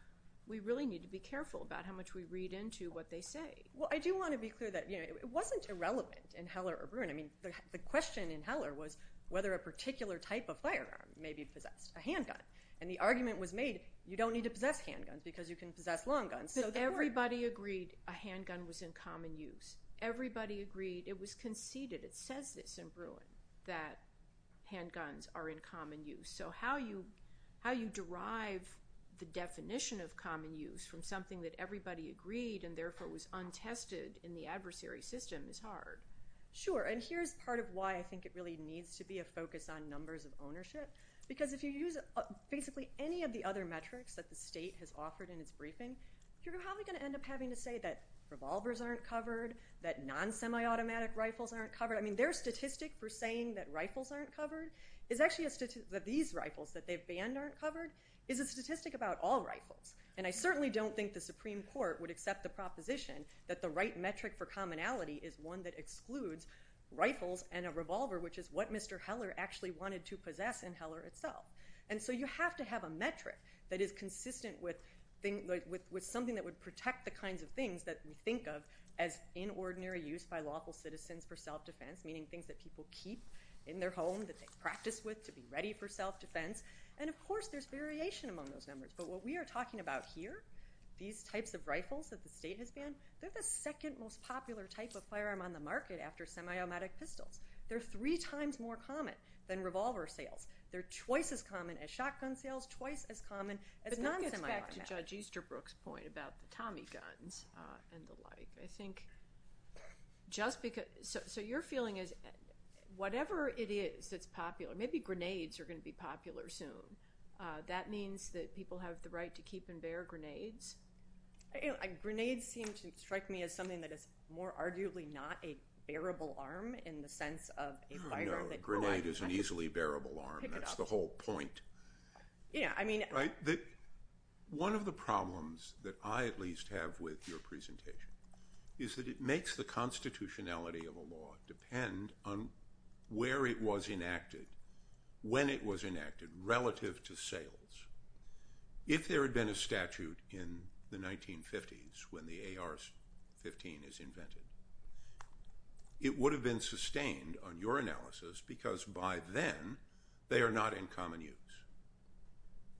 we really need to be careful about how much we read into what they say. Well, I do want to be clear that it wasn't irrelevant in Heller or Bruin. I mean, the question in Heller was whether a particular type of firearm maybe possessed a handgun. And the argument was made, you don't need to possess handguns because you can possess long guns. So everybody agreed a handgun was in common use. Everybody agreed, it was conceded, it says this in Bruin, that handguns are in common use. So how you derive the definition of common use from something that everybody agreed and therefore was untested in the adversary system is hard. Sure. And here's part of why I think it really needs to be a focus on numbers of ownership. Because if you use basically any of the other metrics that the state has offered in its briefing, you're probably going to end up having to say that revolvers aren't covered, that non-semi-automatic rifles aren't covered. I mean, their statistic for saying that rifles aren't covered is actually a statistic that these rifles that they've banned aren't covered is a statistic about all rifles. And I certainly don't think the Supreme Court would accept the proposition that the right metric for commonality is one that excludes rifles and a revolver, which is what Mr. Heller actually wanted to possess in Heller itself. And so you have to have a metric that is consistent with something that would protect the kinds of things that we think of as inordinary use by lawful citizens for self-defense, meaning things that people keep in their home that they practice with to be ready for self-defense. And, of course, there's variation among those numbers. But what we are talking about here, these types of rifles that the state has banned, they're the second most popular type of firearm on the market after semi-automatic pistols. They're three times more common than revolver sales. They're twice as common as shotgun sales, twice as common as non-semi-automatic. Going back to Judge Easterbrook's point about the Tommy guns and the like, I think just because – so your feeling is whatever it is that's popular – maybe grenades are going to be popular soon. That means that people have the right to keep and bear grenades? Grenades seem to strike me as something that is more arguably not a bearable arm in the sense of a firearm that – No, a grenade is an easily bearable arm. That's the whole point. Yeah, I mean – Right. One of the problems that I at least have with your presentation is that it makes the constitutionality of a law depend on where it was enacted, when it was enacted relative to sales. If there had been a statute in the 1950s when the AR-15 is invented, it would have been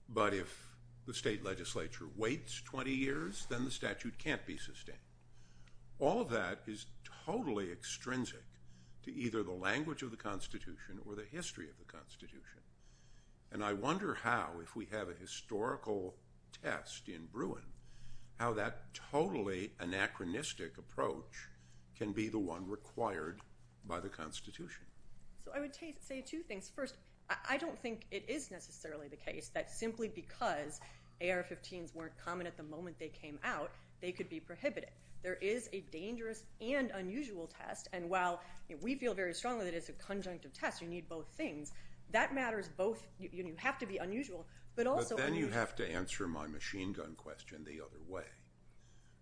But if the state legislature waits 20 years, then the statute can't be sustained. All of that is totally extrinsic to either the language of the constitution or the history of the constitution. And I wonder how, if we have a historical test in Bruin, how that totally anachronistic approach can be the one required by the constitution. I would say two things. First, I don't think it is necessarily the case that simply because AR-15s weren't common at the moment they came out, they could be prohibited. There is a dangerous and unusual test. And while we feel very strongly that it's a conjunctive test, you need both things, that matters both – you have to be unusual, but also – But then you have to answer my machine gun question the other way,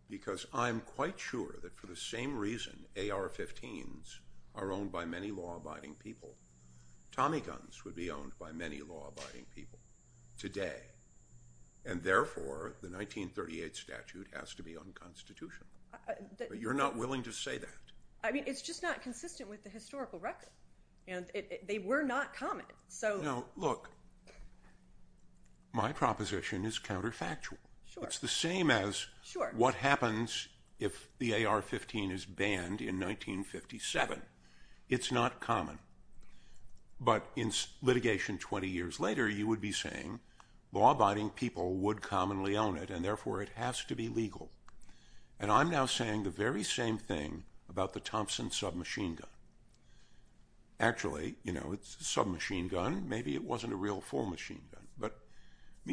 because I'm quite sure that for the same reason AR-15s are owned by many law-abiding people. Tommy guns would be owned by many law-abiding people today. And therefore, the 1938 statute has to be unconstitutional. But you're not willing to say that. I mean, it's just not consistent with the historical record. They were not common. Look, my proposition is counterfactual. It's the same as what happens if the AR-15 is banned in 1957. It's not common. But in litigation 20 years later, you would be saying law-abiding people would commonly own it, and therefore it has to be legal. And I'm now saying the very same thing about the Thompson submachine gun. Actually, you know, it's a submachine gun. Maybe it wasn't a real full machine gun. But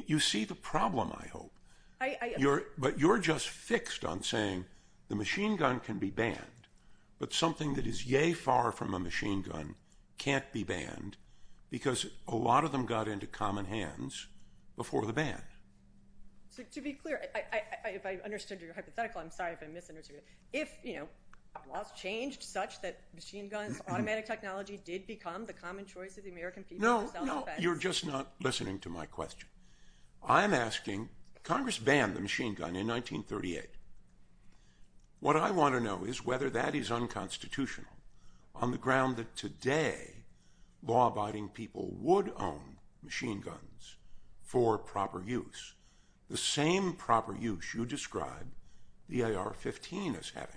you see the problem, I hope. But you're just fixed on saying the machine gun can be banned, but something that is yea far from a machine gun can't be banned, because a lot of them got into common hands before the ban. To be clear, if I understood your hypothetical, I'm sorry if I misunderstood it. If, you know, law changed such that machine guns, automatic technology did become the common choice of the American people without effect. No, no, you're just not listening to my question. I'm asking, Congress banned the machine gun in 1938. What I want to know is whether that is unconstitutional on the ground that today law-abiding people would own machine guns for proper use. The same proper use you describe the AR-15 as having.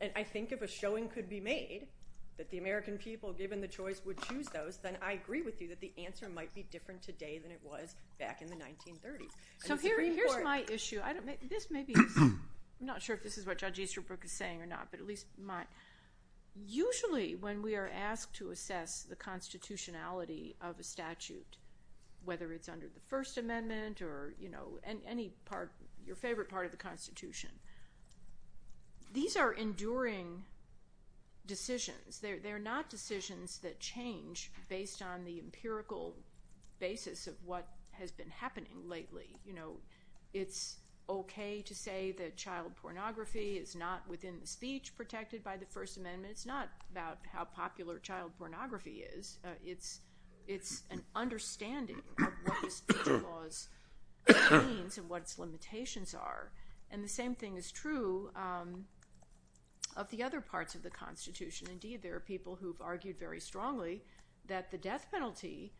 And I think if a showing could be made that the American people, given the choice, would choose those, then I agree with you that the answer might be different today than it was back in the 1930s. So here's my issue. This may be, I'm not sure if this is what Judge Easterbrook is saying or not, but at least mine. Usually when we are asked to assess the constitutionality of a statute, whether it's under the First Amendment or, you know, any part, your favorite part of the Constitution, these are enduring decisions. They're not decisions that change based on the empirical basis of what has been happening lately. You know, it's okay to say that child pornography is not within the speech protected by the First Amendment. It's not about how popular child pornography is. It's an understanding of what the speech laws mean and what its limitations are. And the same thing is true of the other parts of the Constitution. Indeed, there are people who have argued very strongly that the death penalty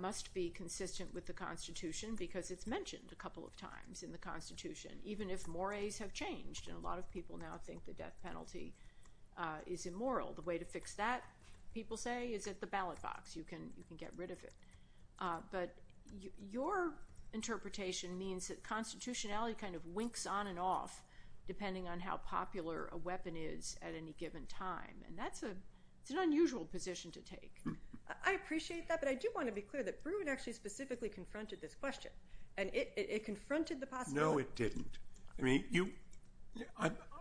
must be consistent with the Constitution because it's mentioned a couple of times in the Constitution, even if mores have changed. And a lot of people now think the death penalty is immoral. The way to fix that, people say, is at the ballot box. You can get rid of it. But your interpretation means that constitutionality kind of winks on and off depending on how popular a weapon is at any given time. And that's an unusual position to take. I appreciate that, but I do want to be clear that Bruin actually specifically confronted this question. And it confronted the possibility. No, it didn't.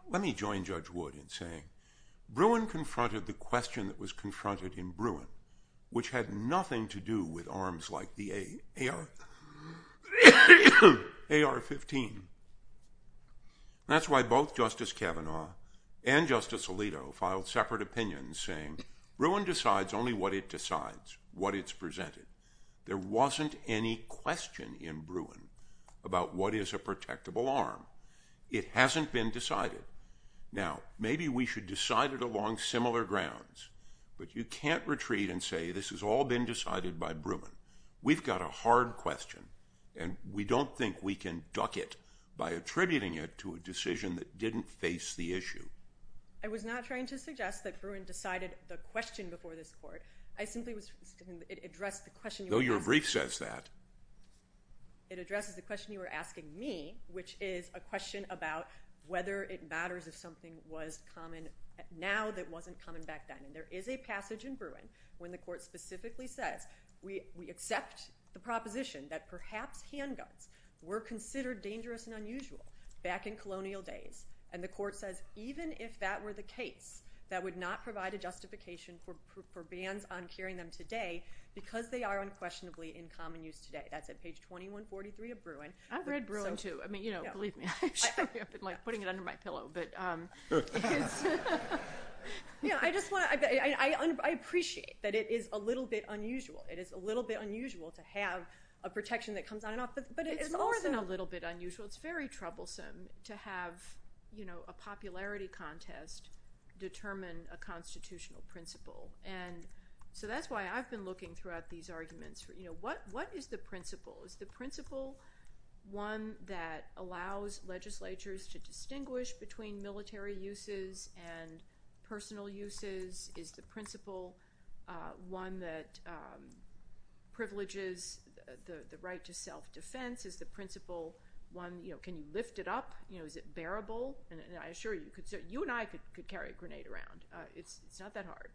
Let me join Judge Wood in saying, Bruin confronted the question that was confronted in Bruin, which had nothing to do with arms like the AR-15. That's why both Justice Kavanaugh and Justice Alito filed separate opinions saying, Bruin decides only what it decides, what it's presented. There wasn't any question in Bruin about what is a protectable arm. It hasn't been decided. Now, maybe we should decide it along similar grounds. But you can't retreat and say, this has all been decided by Bruin. We've got a hard question, and we don't think we can duck it by attributing it to a decision that didn't face the issue. I was not trying to suggest that Bruin decided the question before this court. I simply was – it addressed the question – Though your brief says that. It addresses the question you were asking me, which is a question about whether it matters if something was common now that wasn't common back then. And there is a passage in Bruin when the court specifically says, we accept the proposition that perhaps handguns were considered dangerous and unusual back in colonial days. And the court says, even if that were the case, that would not provide a justification for bans on carrying them today because they are unquestionably in common use today. That's at page 2143 of Bruin. I've read Bruin, too. I'm putting it under my pillow. I appreciate that it is a little bit unusual. It is a little bit unusual to have a protection that comes on and off. But it is more than a little bit unusual. It's very troublesome to have a popularity contest determine a constitutional principle. And so that's why I've been looking throughout these arguments. What is the principle? Is the principle one that allows legislatures to distinguish between military uses and personal uses? Is the principle one that privileges the right to self-defense? Is the principle one you can lift it up? Is it bearable? And I assure you, you and I could carry a grenade around. It's not that hard.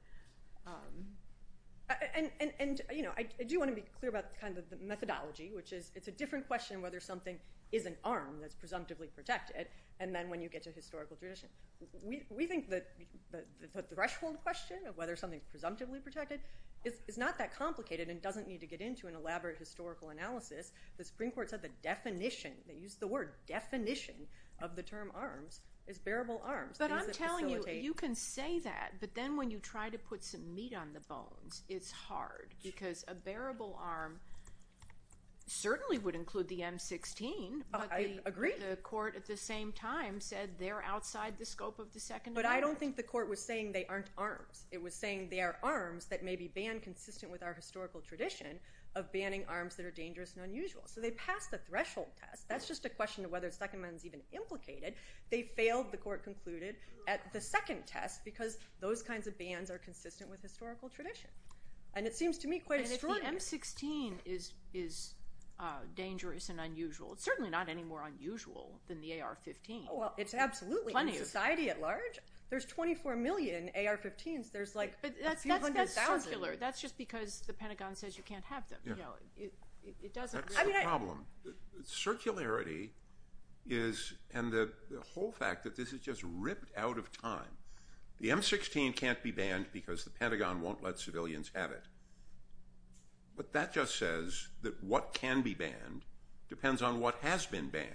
And I do want to be clear about the methodology, which is it's a different question whether something is an arm that's presumptively protected and then when you get to historical tradition. We think that the threshold question of whether something is presumptively protected is not that complicated and doesn't need to get into an elaborate historical analysis. The Supreme Court said the definition, they used the word definition, of the term arm is bearable arm. But I'm telling you, you can say that, but then when you try to put some meat on the bones, it's hard because a bearable arm certainly would include the M-16, but the court at the same time said they're outside the scope of the Second Amendment. But I don't think the court was saying they aren't arms. It was saying they are arms that may be banned consistent with our historical tradition of banning arms that are dangerous and unusual. So they passed the threshold test. That's just a question of whether the Second Amendment is even implicated. They failed, the court concluded, at the second test because those kinds of bans are consistent with historical tradition. And it seems to me quite funny. And if the M-16 is dangerous and unusual, it's certainly not any more unusual than the AR-15. Well, it's absolutely in society at large. There's 24 million AR-15s. That's just because the Pentagon says you can't have them. That's the problem. Circularity is – and the whole fact that this is just ripped out of time. The M-16 can't be banned because the Pentagon won't let civilians have it. But that just says that what can be banned depends on what has been banned.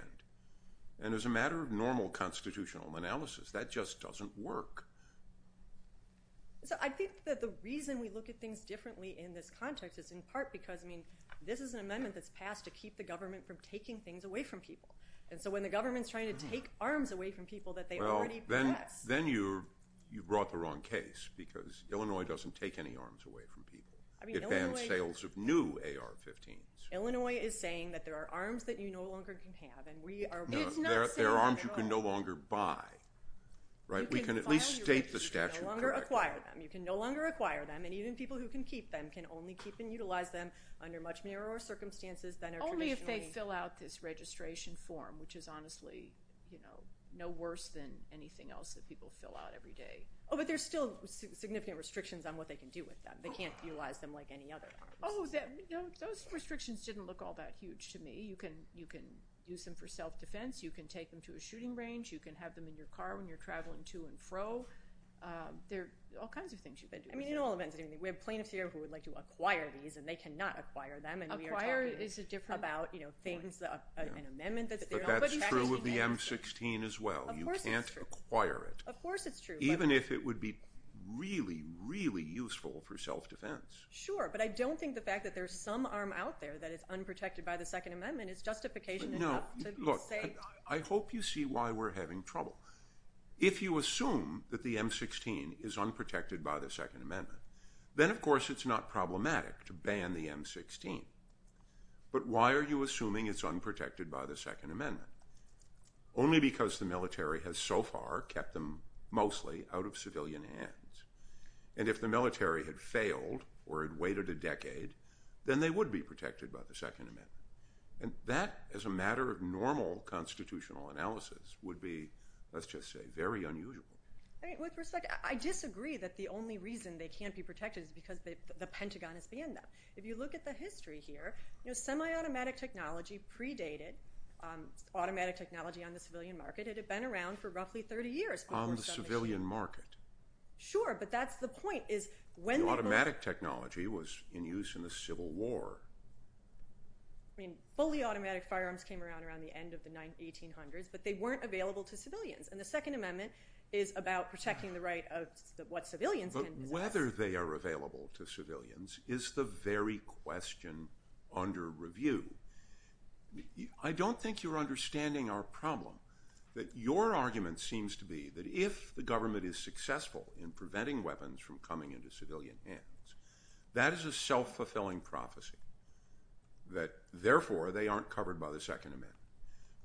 And as a matter of normal constitutional analysis, that just doesn't work. I think that the reason we look at things differently in this context is in part because, I mean, this is an amendment that's passed to keep the government from taking things away from people. And so when the government's trying to take arms away from people that they already possess— Well, then you brought the wrong case because Illinois doesn't take any arms away from people. It bans sales of new AR-15s. Illinois is saying that there are arms that you no longer can have, and we are— No, there are arms you can no longer buy, right? We can at least state the statute correctly. You can no longer acquire them, and even people who can keep them can only keep and utilize them under much narrower circumstances than— Only if they fill out this registration form, which is honestly no worse than anything else that people fill out every day. Oh, but there's still significant restrictions on what they can do with them. They can't utilize them like any other— Oh, those restrictions didn't look all that huge to me. You can use them for self-defense. You can take them to a shooting range. You can have them in your car when you're traveling to and fro. There's all kinds of things you could do. We have plaintiffs here who would like to acquire these, and they cannot acquire them. Acquire is just different about, you know, things—an amendment— But that's true of the M-16 as well. Of course it's true. You can't acquire it. Of course it's true. Even if it would be really, really useful for self-defense. Sure, but I don't think the fact that there's some arm out there that is unprotected by the Second Amendment is justification enough to say— No, look, I hope you see why we're having trouble. If you assume that the M-16 is unprotected by the Second Amendment, then of course it's not problematic to ban the M-16. But why are you assuming it's unprotected by the Second Amendment? Only because the military has so far kept them mostly out of civilian hands. And if the military had failed or had waited a decade, then they would be protected by the Second Amendment. And that, as a matter of normal constitutional analysis, would be, let's just say, very unusual. With respect, I disagree that the only reason they can't be protected is because the Pentagon is banned now. If you look at the history here, semi-automatic technology predated automatic technology on the civilian market. It had been around for roughly 30 years. On the civilian market. Sure, but that's the point. Automatic technology was in use in the Civil War. I mean, fully automatic firearms came around around the end of the 1800s, but they weren't available to civilians. And the Second Amendment is about protecting the right of what civilians can do. But whether they are available to civilians is the very question under review. I don't think you're understanding our problem. Your argument seems to be that if the government is successful in preventing weapons from coming into civilian hands, that is a self-fulfilling prophecy. That, therefore, they aren't covered by the Second Amendment.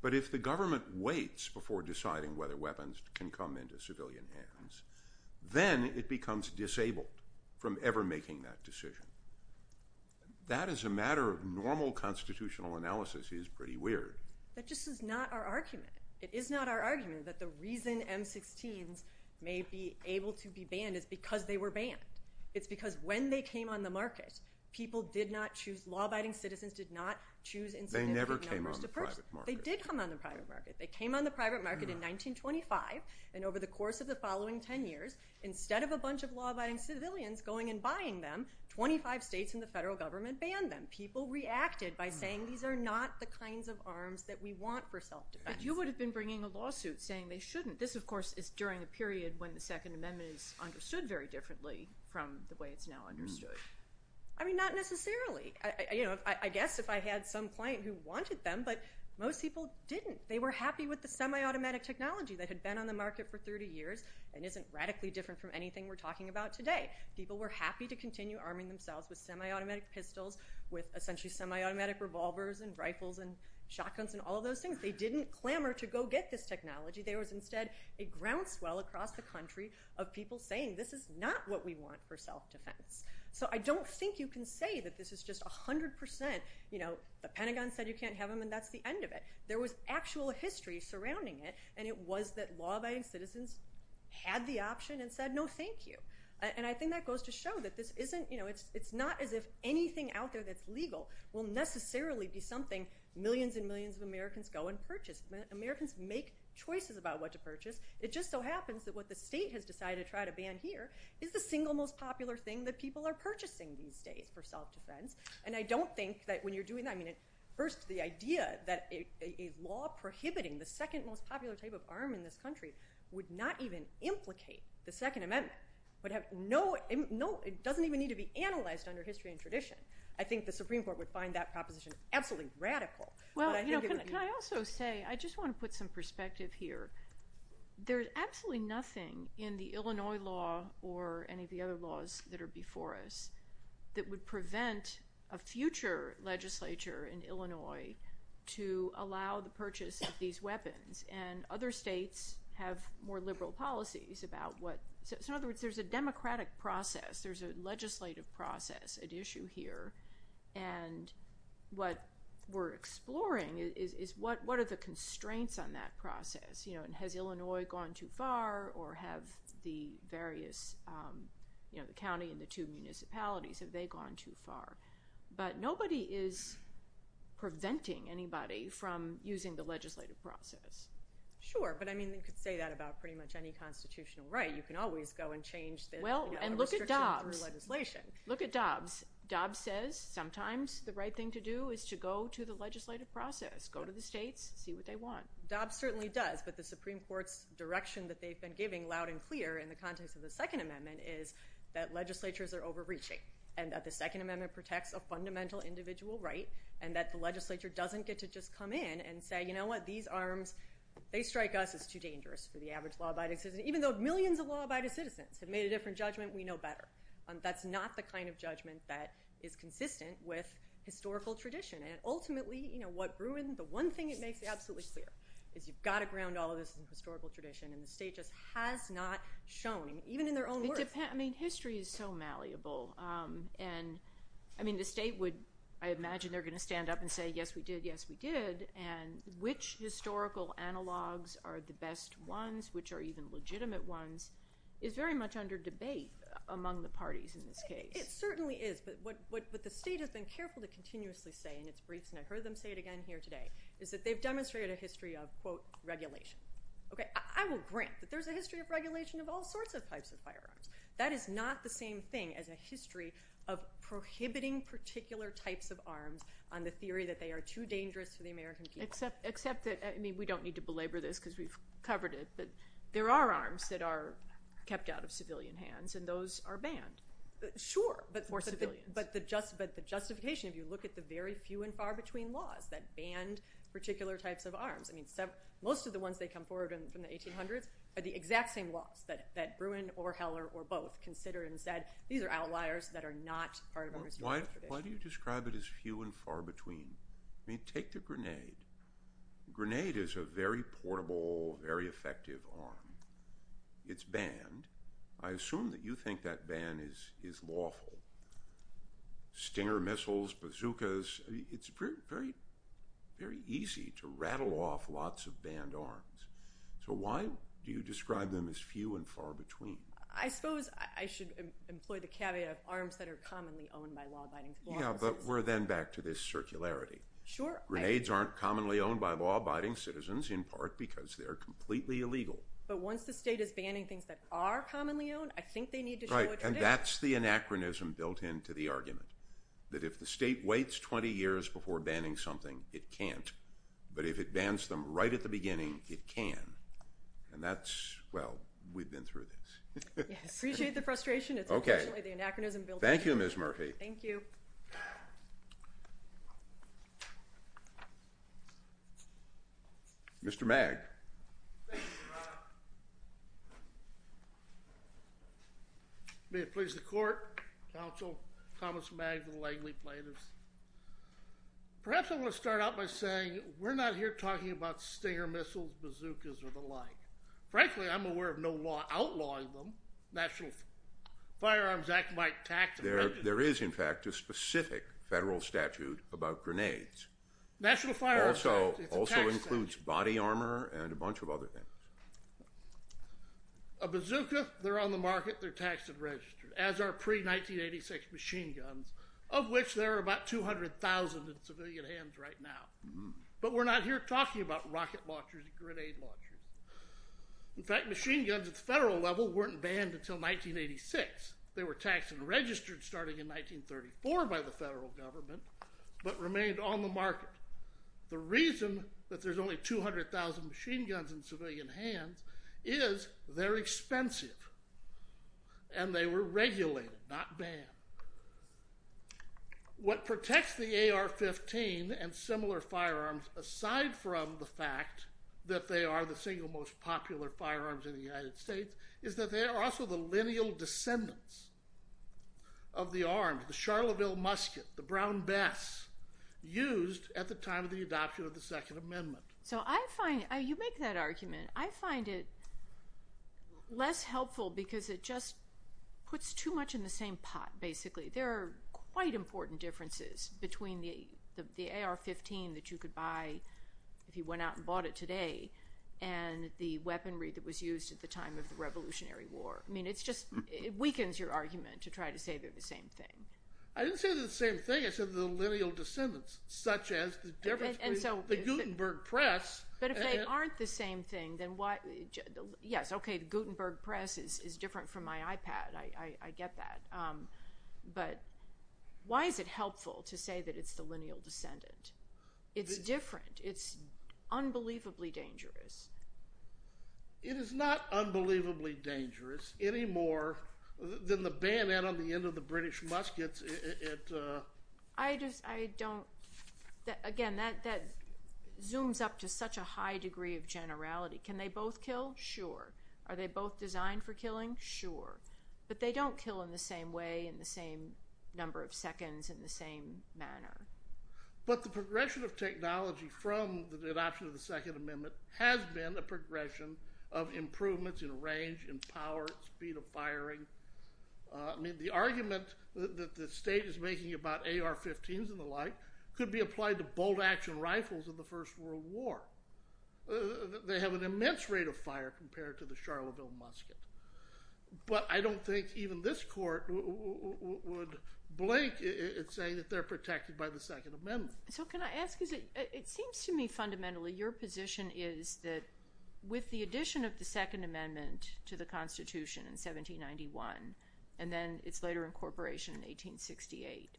But if the government waits before deciding whether weapons can come into civilian hands, then it becomes disabled from ever making that decision. That, as a matter of normal constitutional analysis, is pretty weird. That just is not our argument. It is not our argument that the reason M-16s may be able to be banned is because they were banned. It's because when they came on the market, people did not choose, law-abiding citizens did not choose impunity as an option. They never came on the private market. They did come on the private market. They came on the private market in 1925. And over the course of the following ten years, instead of a bunch of law-abiding civilians going and buying them, 25 states and the federal government banned them. People reacted by saying these are not the kinds of arms that we want for self-defense. But you would have been bringing a lawsuit saying they shouldn't. This, of course, is during a period when the Second Amendment is understood very differently from the way it's now understood. I mean, not necessarily. I guess if I had some client who wanted them, but most people didn't. They were happy with the semi-automatic technology that had been on the market for 30 years and isn't radically different from anything we're talking about today. People were happy to continue arming themselves with semi-automatic pistols, with essentially semi-automatic revolvers and rifles and shotguns and all those things. They didn't clamor to go get this technology. They were instead a groundswell across the country of people saying, this is not what we want for self-defense. So I don't think you can say that this is just 100%. The Pentagon said you can't have them, and that's the end of it. There was actual history surrounding it, and it was that law-abiding citizens had the option and said, no, thank you. And I think that goes to show that it's not as if anything out there that's legal will necessarily be something millions and millions of Americans go and purchase. When Americans make choices about what to purchase, it just so happens that what the state has decided to try to ban here is the single most popular thing that people are purchasing these days for self-defense. And I don't think that when you're doing that, first the idea that a law prohibiting the second most popular type of arm in this country would not even implicate the Second Amendment. It doesn't even need to be analyzed under history and tradition. I think the Supreme Court would find that proposition absolutely radical. Well, can I also say, I just want to put some perspective here. There's absolutely nothing in the Illinois law or any of the other laws that are before us that would prevent a future legislature in Illinois to allow the purchase of these weapons. And other states have more liberal policies about what – so in other words, there's a democratic process, there's a legislative process at issue here. And what we're exploring is what are the constraints on that process? Has Illinois gone too far or have the various – the county and the two municipalities, have they gone too far? But nobody is preventing anybody from using the legislative process. Sure, but I mean you could say that about pretty much any constitutional right. You can always go and change this. Well, and look at Dobbs. Look at Dobbs. Dobbs says sometimes the right thing to do is to go to the legislative process, go to the states, see what they want. Dobbs certainly does. But the Supreme Court's direction that they've been giving loud and clear in the context of the Second Amendment is that legislatures are overreaching and that the Second Amendment protects a fundamental individual right and that the legislature doesn't get to just come in and say, you know what, these arms, they strike us, it's too dangerous for the average law abiding citizen. And even though millions of law abiding citizens have made a different judgment, we know better. That's not the kind of judgment that is consistent with historical tradition. And ultimately what grew is the one thing it makes absolutely clear is you've got to ground all of this in historical tradition and the state just has not shown, even in their own work. It depends. I mean history is so malleable. And I mean the state would – I imagine they're going to stand up and say, yes we did, yes we did. And which historical analogs are the best ones, which are even legitimate ones, is very much under debate among the parties in this case. It certainly is. But what the state has been careful to continuously say, and it's brief and I've heard them say it again here today, is that they've demonstrated a history of, quote, regulation. Okay, I will grant that there's a history of regulation of all sorts of types of firearms. That is not the same thing as a history of prohibiting particular types of arms on the theory that they are too dangerous to the American people. Except that, I mean we don't need to belabor this because we've covered it, but there are arms that are kept out of civilian hands and those are banned. Sure, but the justification, if you look at the very few and far between laws that ban particular types of arms. Most of the ones that come forward in the 1800s are the exact same laws that Bruin or Heller or both considered and said, these are outliers that are not part of a regime. Why do you describe it as few and far between? I mean take the grenade. The grenade is a very portable, very effective arm. It's banned. I assume that you think that ban is lawful. Stinger missiles, bazookas, it's very easy to rattle off lots of banned arms. So why do you describe them as few and far between? I suppose I should employ the caveat of arms that are commonly owned by law-abiding citizens. Yeah, but we're then back to this circularity. Sure. Grenades aren't commonly owned by law-abiding citizens, in part because they're completely illegal. But once the state is banning things that are commonly owned, I think they need to know what they're banned. Right, and that's the anachronism built into the argument. That if the state waits 20 years before banning something, it can't. But if it bans them right at the beginning, it can. And that's, well, we've been through this. Appreciate the frustration. Okay. It's the anachronism built in. Thank you, Ms. Murphy. Thank you. Mr. Magg. May it please the Court, Counsel, Thomas Magg of the Langley plaintiffs, perhaps I want to start out by saying we're not here talking about rocket launchers and bazookas or the like. Frankly, I'm aware of no law outlawing them. National Firearms Act might tax them. There is, in fact, a specific federal statute about grenades. Also includes body armor and a bunch of other things. A bazooka, they're on the market, they're taxed and registered, as are pre-1986 machine guns, of which there are about 200,000 in civilian hands right now. But we're not here talking about rocket launchers and grenade launchers. In fact, machine guns at the federal level weren't banned until 1986. They were taxed and registered starting in 1934 by the federal government, but remained on the market. The reason that there's only 200,000 machine guns in civilian hands is they're expensive and they were regulated, not banned. What protects the AR-15 and similar firearms, aside from the fact that they are the single most popular firearms in the United States, is that they are also the lineal descendants of the arms, the Charleville Musket, the Brown Bess, used at the time of the adoption of the Second Amendment. You make that argument. I find it less helpful because it just puts too much in the same pot, basically. There are quite important differences between the AR-15 that you could buy if you went out and bought it today and the weaponry that was used at the time of the Revolutionary War. I mean, it just weakens your argument to try to say they're the same thing. I didn't say they're the same thing, I said they're the lineal descendants, such as the difference between the Gutenberg press. But if they aren't the same thing, then why? Yes, okay, the Gutenberg press is different from my iPad. I get that. But why is it helpful to say that it's the lineal descendant? It's different. It's unbelievably dangerous. It is not unbelievably dangerous any more than the bayonet on the end of the British musket. Again, that zooms up to such a high degree of generality. Can they both kill? Sure. Are they both designed for killing? Sure. But they don't kill in the same way, in the same number of seconds, in the same manner. But the progression of technology from the adoption of the Second Amendment has been a progression of improvements in range, in power, speed of firing. The arguments that the state is making about AR-15s and the like could be applied to bolt-action rifles in the First World War. They have an immense rate of fire compared to the Charlottesville musket. But I don't think even this court would blame it saying that they're protected by the Second Amendment. So can I ask you, it seems to me fundamentally your position is that with the addition of the Second Amendment to the Constitution in 1791 and then its later incorporation in 1868,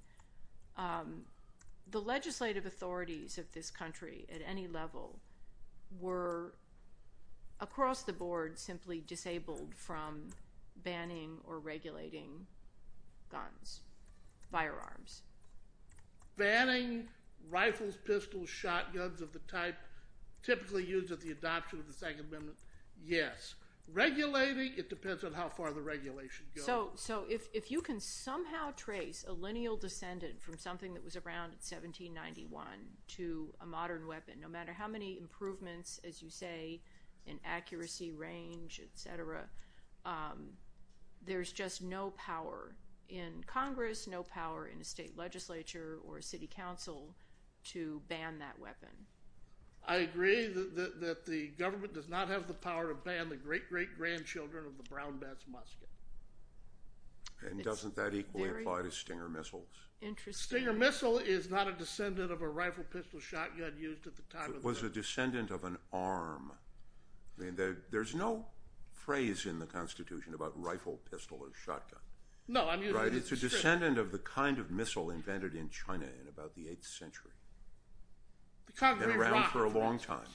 the legislative authorities of this country at any level were across the board simply disabled from banning or regulating guns, firearms. Banning rifles, pistols, shotguns of the type typically used in the adoption of the Second Amendment, yes. Regulating, it depends on how far the regulation goes. So if you can somehow trace a lineal descendant from something that was around 1791 to a modern weapon, no matter how many improvements, as you say, in accuracy, range, etc., there's just no power in Congress, no power in the state legislature or city council to ban that weapon. I agree that the government does not have the power to ban the great-great-grandchildren of the brown bats musket. And doesn't that equally apply to Stinger missiles? Interesting. Stinger missile is not a descendant of a rifle, pistol, shotgun used at the time. It was a descendant of an arm. There's no phrase in the Constitution about rifle, pistol, or shotgun. No. It's a descendant of the kind of missile invented in China in about the 8th century. It ran for a long time.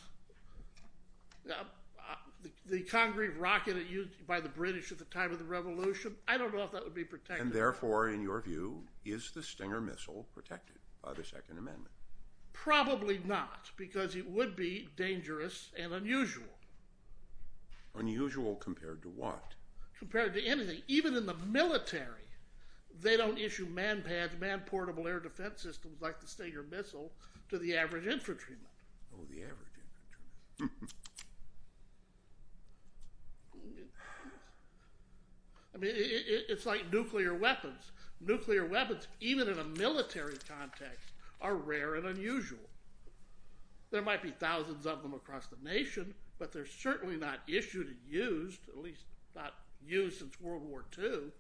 The concrete rocket used by the British at the time of the Revolution, I don't know if that would be protected. And therefore, in your view, is the Stinger missile protected by the Second Amendment? Probably not, because it would be dangerous and unusual. Unusual compared to what? Compared to anything. Even in the military, they don't issue man-packed, man-portable air defense systems like the Stinger missile to the average infantryman. It's like nuclear weapons. Nuclear weapons, even in a military context, are rare and unusual. There might be thousands of them across the nation, but they're certainly not issued and used, at least not used since World War II.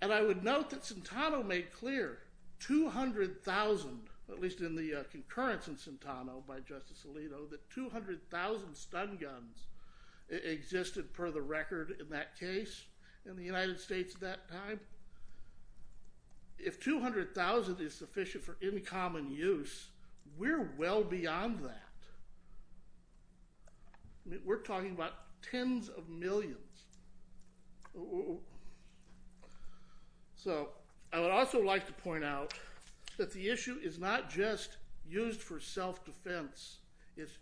And I would note that Centano made clear, 200,000, at least in the concurrence in Centano by Justice Alito, that 200,000 stun guns existed for the record in that case, in the United States at that time. If 200,000 is sufficient for in common use, we're well beyond that. We're talking about tens of millions. I would also like to point out that the issue is not just used for self-defense. It's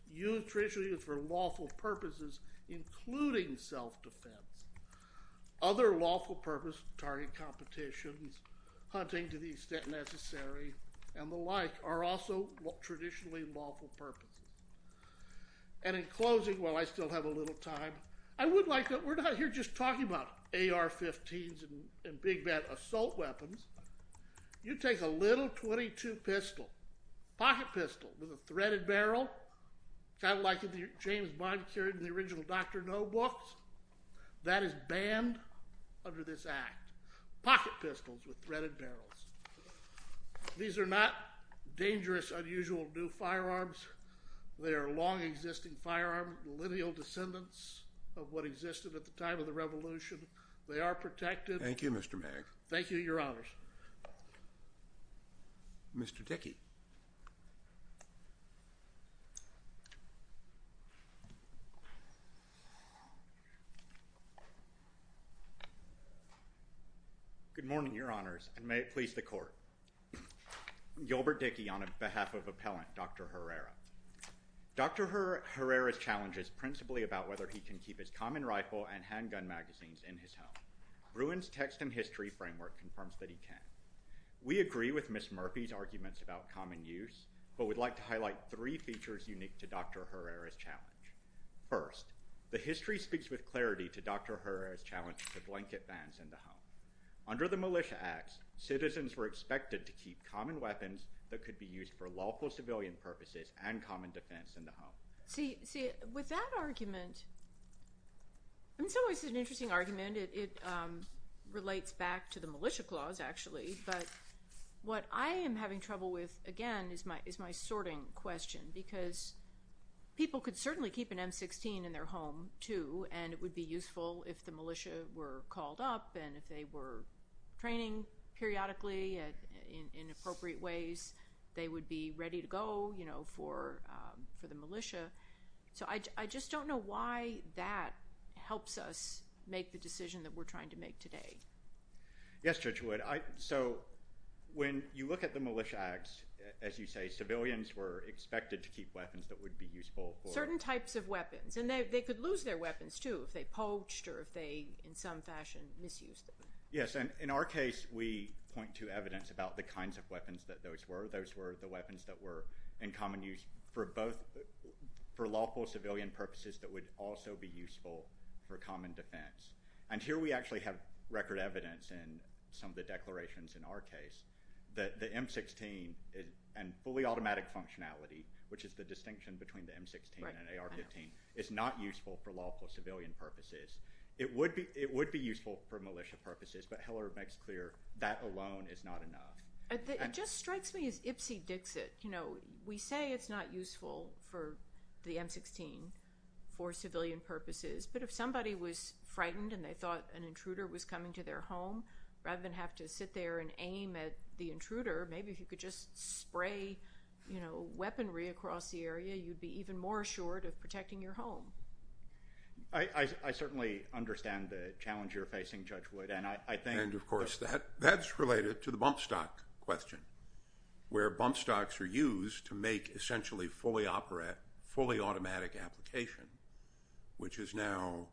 traditionally used for lawful purposes, including self-defense. Other lawful purposes, target competition, hunting to the extent necessary, and the like, are also traditionally lawful purposes. And in closing, while I still have a little time, I would like to, we're not here just talking about AR-15s and Big Ben assault weapons. You take a little .22 pistol, pocket pistol with a threaded barrel, kind of like the James Bond series in the original Dr. No books, that is banned under this Act. Pocket pistols with threaded barrels. These are not dangerous, unusual new firearms. They are long-existing firearms, millennial descendants of what existed at the time of the Revolution. They are protected. Thank you, Mr. Mayor. Thank you, Your Honors. Mr. Dickey. Good morning, Your Honors, and may it please the Court. Gilbert Dickey on behalf of Appellant Dr. Herrera. Dr. Herrera's challenge is principally about whether he can keep his common rifle and handgun magazines in his home. Ruin's text and history framework confirms that he can. We agree with Ms. Murphy's arguments about common use, but we'd like to highlight three features unique to Dr. Herrera's challenge. First, the history speaks with clarity to Dr. Herrera's challenge to blanket vans in the home. Under the Militia Acts, citizens were expected to keep common weapons that could be used for lawful civilian purposes and common defense in the home. See, with that argument, it's always an interesting argument. It relates back to the Militia Clause, actually, but what I am having trouble with, again, is my sorting question because people could certainly keep an M16 in their home, too, and it would be useful if the militia were called up and if they were training periodically in appropriate ways, they would be ready to go for the militia. So I just don't know why that helps us make the decision that we're trying to make today. Yes, Judge Wood. So when you look at the Militia Acts, as you say, civilians were expected to keep weapons that would be useful for... Certain types of weapons, and they could lose their weapons, too, if they poached or if they, in some fashion, misused them. Yes, and in our case, we point to evidence about the kinds of weapons that those were. Those were the weapons that were in common use for lawful civilian purposes that would also be useful for common defense. And here we actually have record evidence in some of the declarations in our case that the M16 and fully automatic functionality, which is the distinction between the M16 and an AR-15, is not useful for lawful civilian purposes. It would be useful for militia purposes, but Hiller makes clear that alone is not enough. It just strikes me as itsy-bitsy. We say it's not useful for the M16 for civilian purposes, but if somebody was frightened and they thought an intruder was coming to their home, rather than have to sit there and aim at the intruder, maybe if you could just spray weaponry across the area, you'd be even more assured of protecting your home. I certainly understand the challenge you're facing, Judge Wood. And, of course, that's related to the bump stock question where bump stocks are used to make essentially fully automatic applications, which is now,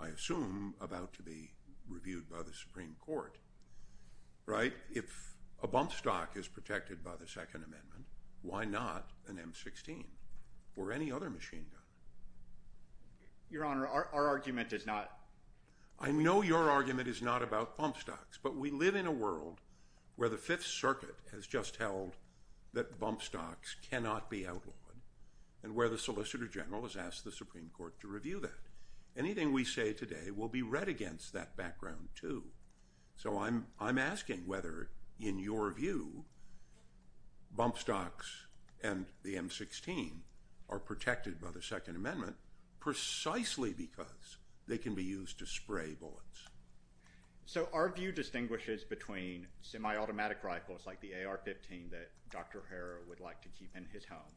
I assume, about to be reviewed by the Supreme Court. Right? If a bump stock is protected by the Second Amendment, why not an M16 or any other machine gun? Your Honor, our argument is not. I know your argument is not about bump stocks, but we live in a world where the Fifth Circuit has just held that bump stocks cannot be outlawed and where the Solicitor General has asked the Supreme Court to review that. Anything we say today will be read against that background, too. So I'm asking whether, in your view, bump stocks and the M16 are protected by the Second Amendment precisely because they can be used to spray bullets. So our view distinguishes between semi-automatic rifles like the AR-15 that Dr. Harrow would like to keep in his home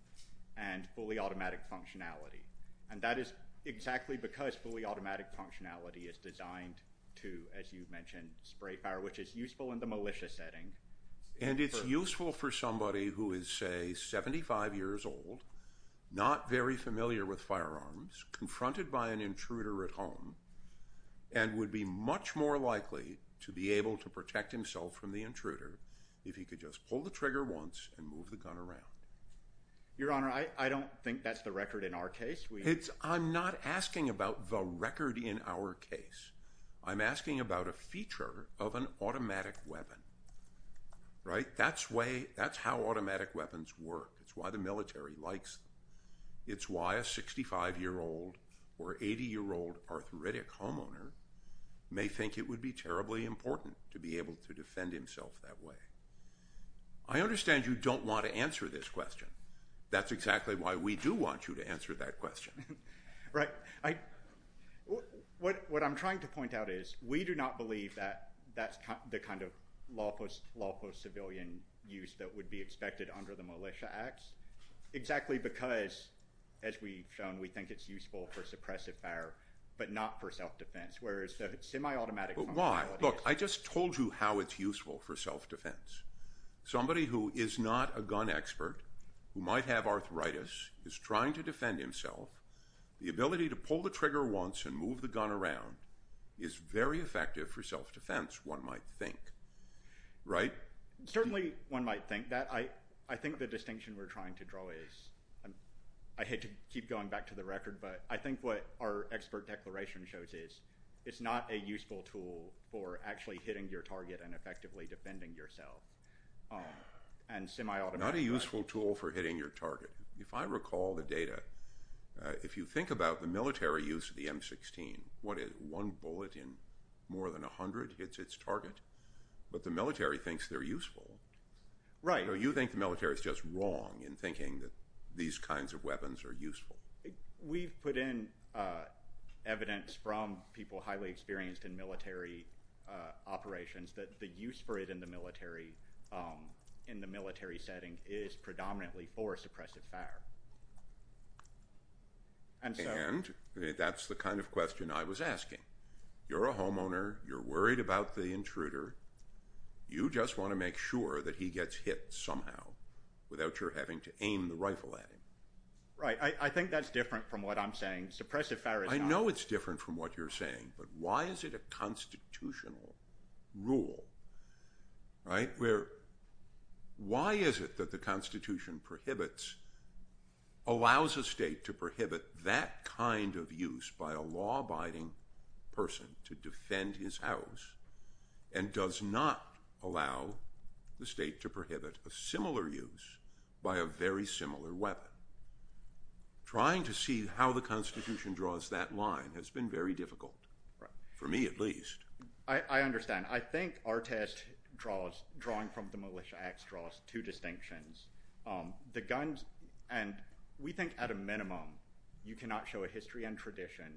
and fully automatic functionality. And that is exactly because fully automatic functionality is designed to, as you mentioned, spray fire, which is useful in the militia setting. And it's useful for somebody who is, say, 75 years old, not very familiar with firearms, confronted by an intruder at home, and would be much more likely to be able to protect himself from the intruder if he could just pull the trigger once and move the gun around. Your Honor, I don't think that's the record in our case. I'm not asking about the record in our case. I'm asking about a feature of an automatic weapon, right? That's how automatic weapons work. It's why the military likes them. It's why a 65-year-old or 80-year-old arthritic homeowner may think it would be terribly important to be able to defend himself that way. I understand you don't want to answer this question. That's exactly why we do want you to answer that question. Right. What I'm trying to point out is we do not believe that that's the kind of lawful civilian use that would be expected under the Militia Act, exactly because, as we've shown, we think it's useful for suppressive fire, but not for self-defense, whereas the semi-automatic— Why? Look, I just told you how it's useful for self-defense. Somebody who is not a gun expert, who might have arthritis, is trying to defend himself, the ability to pull the trigger once and move the gun around is very effective for self-defense, one might think, right? Certainly one might think that. I think the distinction we're trying to draw is— I hate to keep going back to the record, but I think what our expert declaration shows is it's not a useful tool for actually hitting your target and effectively defending yourself, and semi-automatic— It's not a useful tool for hitting your target. If I recall the data, if you think about the military use of the M16, one bullet in more than a hundred hits its target, but the military thinks they're useful. Right. Or you think the military is just wrong in thinking that these kinds of weapons are useful. We've put in evidence from people highly experienced in military operations that the use for it in the military setting is predominantly for suppressive fire. And that's the kind of question I was asking. You're a homeowner. You're worried about the intruder. You just want to make sure that he gets hit somehow without your having to aim the rifle at him. Right. I think that's different from what I'm saying. Suppressive fire is not— I know it's different from what you're saying, but why is it a constitutional rule, right, where why is it that the Constitution prohibits— allows a state to prohibit that kind of use by a law-abiding person to defend his house and does not allow the state to prohibit a similar use by a very similar weapon? Trying to see how the Constitution draws that line has been very difficult. Right. For me at least. I understand. I think our test draws—drawing from the Militia Act draws two distinctions. The guns—and we think at a minimum you cannot show a history and tradition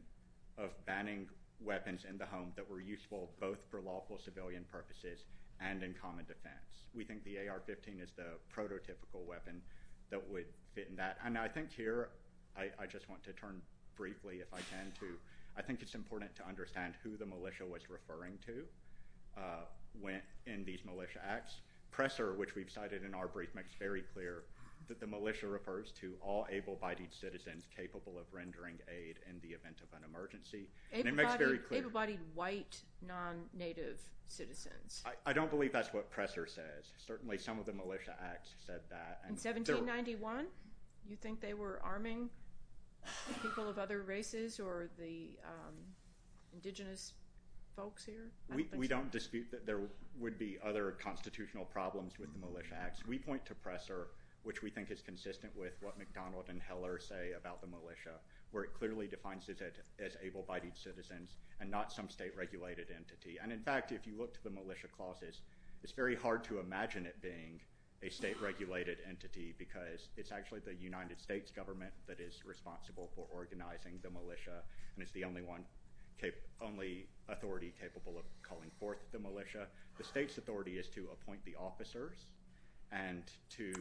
of banning weapons in the home that were useful both for lawful civilian purposes and in common defense. We think the AR-15 is the prototypical weapon that would fit in that. And I think here—I just want to turn briefly if I can to— I think it's important to understand who the Militia was referring to in these Militia Acts. Presser, which we've cited in our brief, makes very clear that the Militia refers to all able-bodied citizens capable of rendering aid in the event of an emergency. And it makes very clear— Able-bodied white, non-Native citizens. I don't believe that's what Presser says. Certainly some of the Militia Acts said that. In 1791? You think they were arming people of other races or the Indigenous folks here? We don't dispute that there would be other constitutional problems with the Militia Acts. We point to Presser, which we think is consistent with what McDonald and Heller say about the Militia, where it clearly defines it as able-bodied citizens and not some state-regulated entity. And in fact, if you look to the Militia Clauses, it's very hard to imagine it being a state-regulated entity because it's actually the United States government that is responsible for organizing the Militia and is the only authority capable of calling forth the Militia. The state's authority is to appoint the officers and to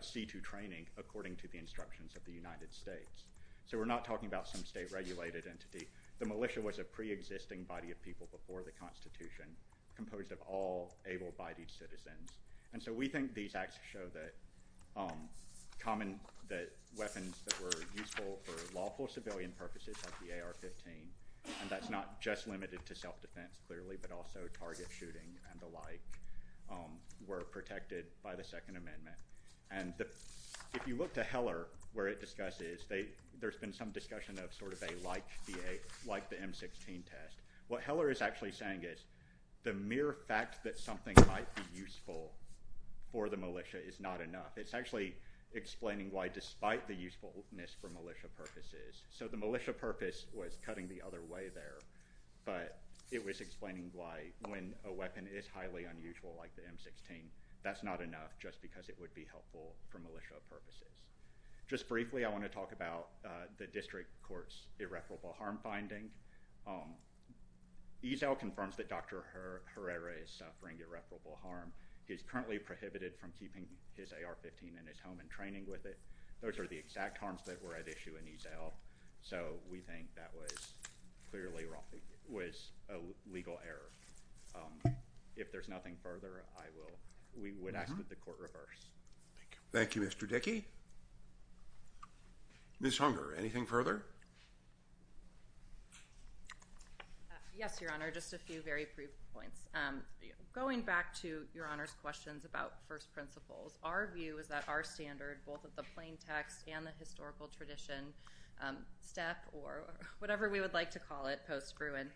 see to training according to the instructions of the United States. So we're not talking about some state-regulated entity. The Militia was a pre-existing body of people before the Constitution composed of all able-bodied citizens. And so we think these Acts show that weapons that were useful for lawful civilian purposes like the AR-15, and that's not just limited to self-defense clearly, but also target shooting and the like, were protected by the Second Amendment. And if you look to Heller, where it discusses, there's been some discussion of sort of a like the M-16 test. What Heller is actually saying is the mere fact that something might be useful for the Militia is not enough. It's actually explaining why despite the usefulness for Militia purposes. So the Militia purpose was cutting the other way there, but it was explaining why when a weapon is highly unusual like the M-16, that's not enough just because it would be helpful for Militia purposes. Just briefly, I want to talk about the district court's irreparable harm finding. ESAIL confirms that Dr. Herrera is suffering irreparable harm. He is currently prohibited from keeping his AR-15 in his home and training with it. Those are the exact harms that were at issue in ESAIL. So we think that was clearly a legal error. If there's nothing further, we would ask that the court reverse. Thank you, Mr. Dickey. Ms. Hunger, anything further? Yes, Your Honor, just a few very brief points. Going back to Your Honor's questions about first principles, our view is that our standard, both of the plain text and the historical tradition, SEP or whatever we would like to call it post-Gruen,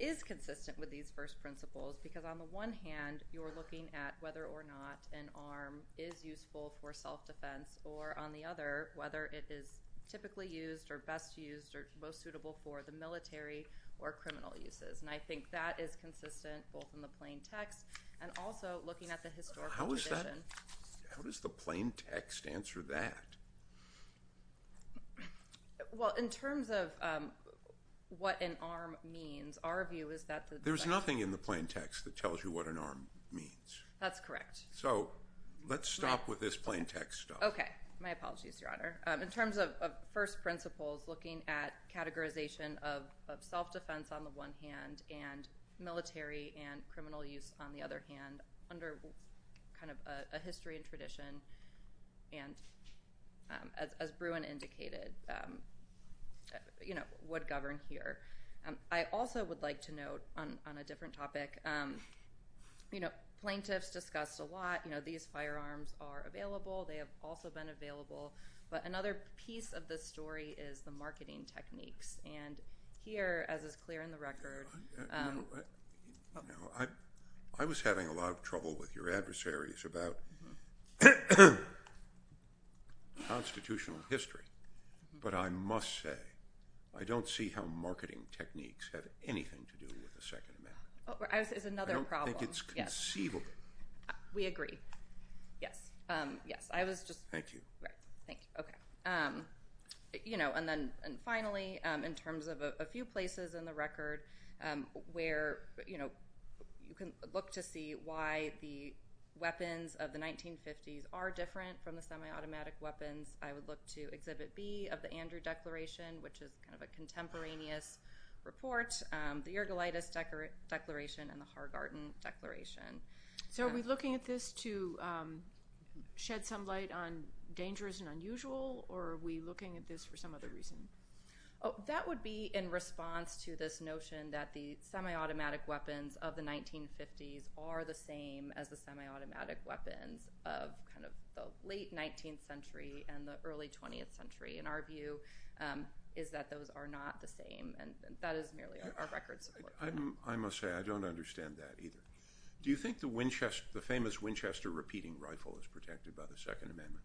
is consistent with these first principles because on the one hand, you're looking at whether or not an arm is useful for self-defense, or on the other, whether it is typically used or best used or most suitable for the military or criminal uses. And I think that is consistent both in the plain text and also looking at the historical tradition. How does the plain text answer that? Well, in terms of what an arm means, our view is that the – There's nothing in the plain text that tells you what an arm means. That's correct. So let's stop with this plain text stuff. Okay. My apologies, Your Honor. In terms of first principles, looking at categorization of self-defense on the one hand and military and criminal use on the other hand under kind of a history and tradition, and as Gruen indicated, would govern here. I also would like to note on a different topic, plain text discussed a lot. These firearms are available. They have also been available. But another piece of this story is the marketing techniques. And here, as is clear in the record— I was having a lot of trouble with your adversaries about constitutional history. But I must say, I don't see how marketing techniques have anything to do with the Second Amendment. It's another problem. I don't think it's conceivable. We agree. Yes. Thank you. Thank you. Okay. And then finally, in terms of a few places in the record where you can look to see why the weapons of the 1950s are different from the semi-automatic weapons, I would look to Exhibit B of the Andrew Declaration, which is kind of a contemporaneous report, the Ergolitis Declaration and the Hargarten Declaration. So are we looking at this to shed some light on dangers and unusual, or are we looking at this for some other reason? That would be in response to this notion that the semi-automatic weapons of the 1950s are the same as the semi-automatic weapons of the late 19th century and the early 20th century. And our view is that those are not the same, and that is merely our record. I must say, I don't understand that either. Do you think the famous Winchester repeating rifle is protected by the Second Amendment?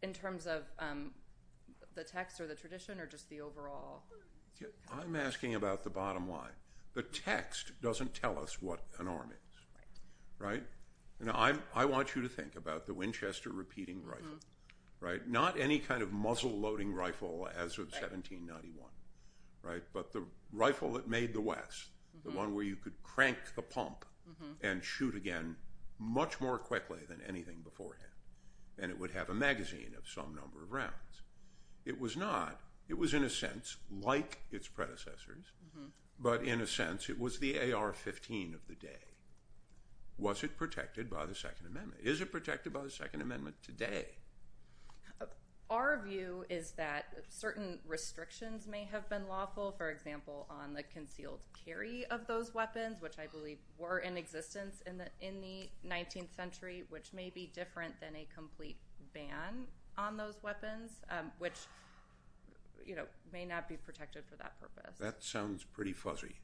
In terms of the text or the tradition or just the overall? I'm asking about the bottom line. The text doesn't tell us what an arm is, right? Now I want you to think about the Winchester repeating rifle, right? Not any kind of muzzle-loading rifle as of 1791, right? But the rifle that made the West, the one where you could crank the pump and shoot again much more quickly than anything beforehand, it was in a sense like its predecessors, but in a sense it was the AR-15 of the day. Was it protected by the Second Amendment? Is it protected by the Second Amendment today? Our view is that certain restrictions may have been lawful, for example, on the concealed carry of those weapons, which may be different than a complete ban on those weapons, which may not be protected for that purpose. That sounds pretty fuzzy.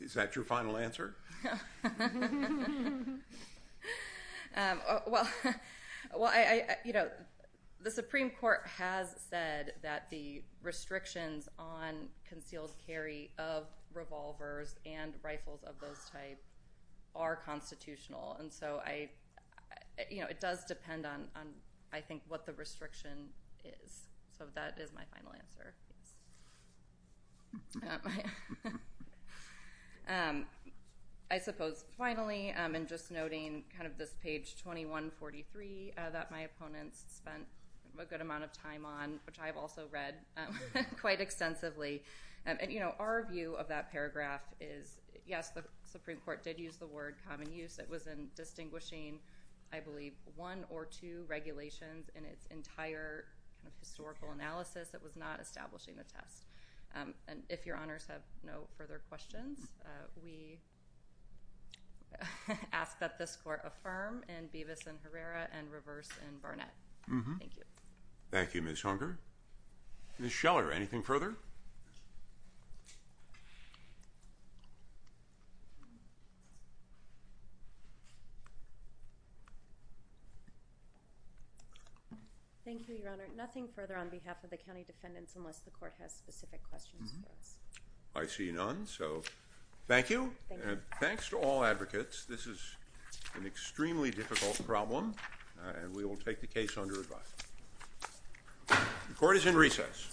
Is that your final answer? The Supreme Court has said that the restrictions on concealed carry of revolvers and rifles of those types are constitutional, and so it does depend on, I think, what the restriction is. So that is my final answer. I suppose finally, I'm just noting kind of this page 2143 that my opponent spent a good amount of time on, which I've also read quite extensively. Our view of that paragraph is, yes, the Supreme Court did use the word common use. It was in distinguishing, I believe, one or two regulations in its entire historical analysis. It was not establishing the test. And if Your Honors have no further questions, we ask that this Court affirm in Beavis and Herrera and reverse in Barnett. Thank you. Thank you, Ms. Hunker. Ms. Scheller, anything further? Thank you, Your Honor. Nothing further on behalf of the county defendants unless the Court has specific questions. I see none, so thank you. Thanks to all advocates. This is an extremely difficult problem, and we will take the case under review. The Court is in recess.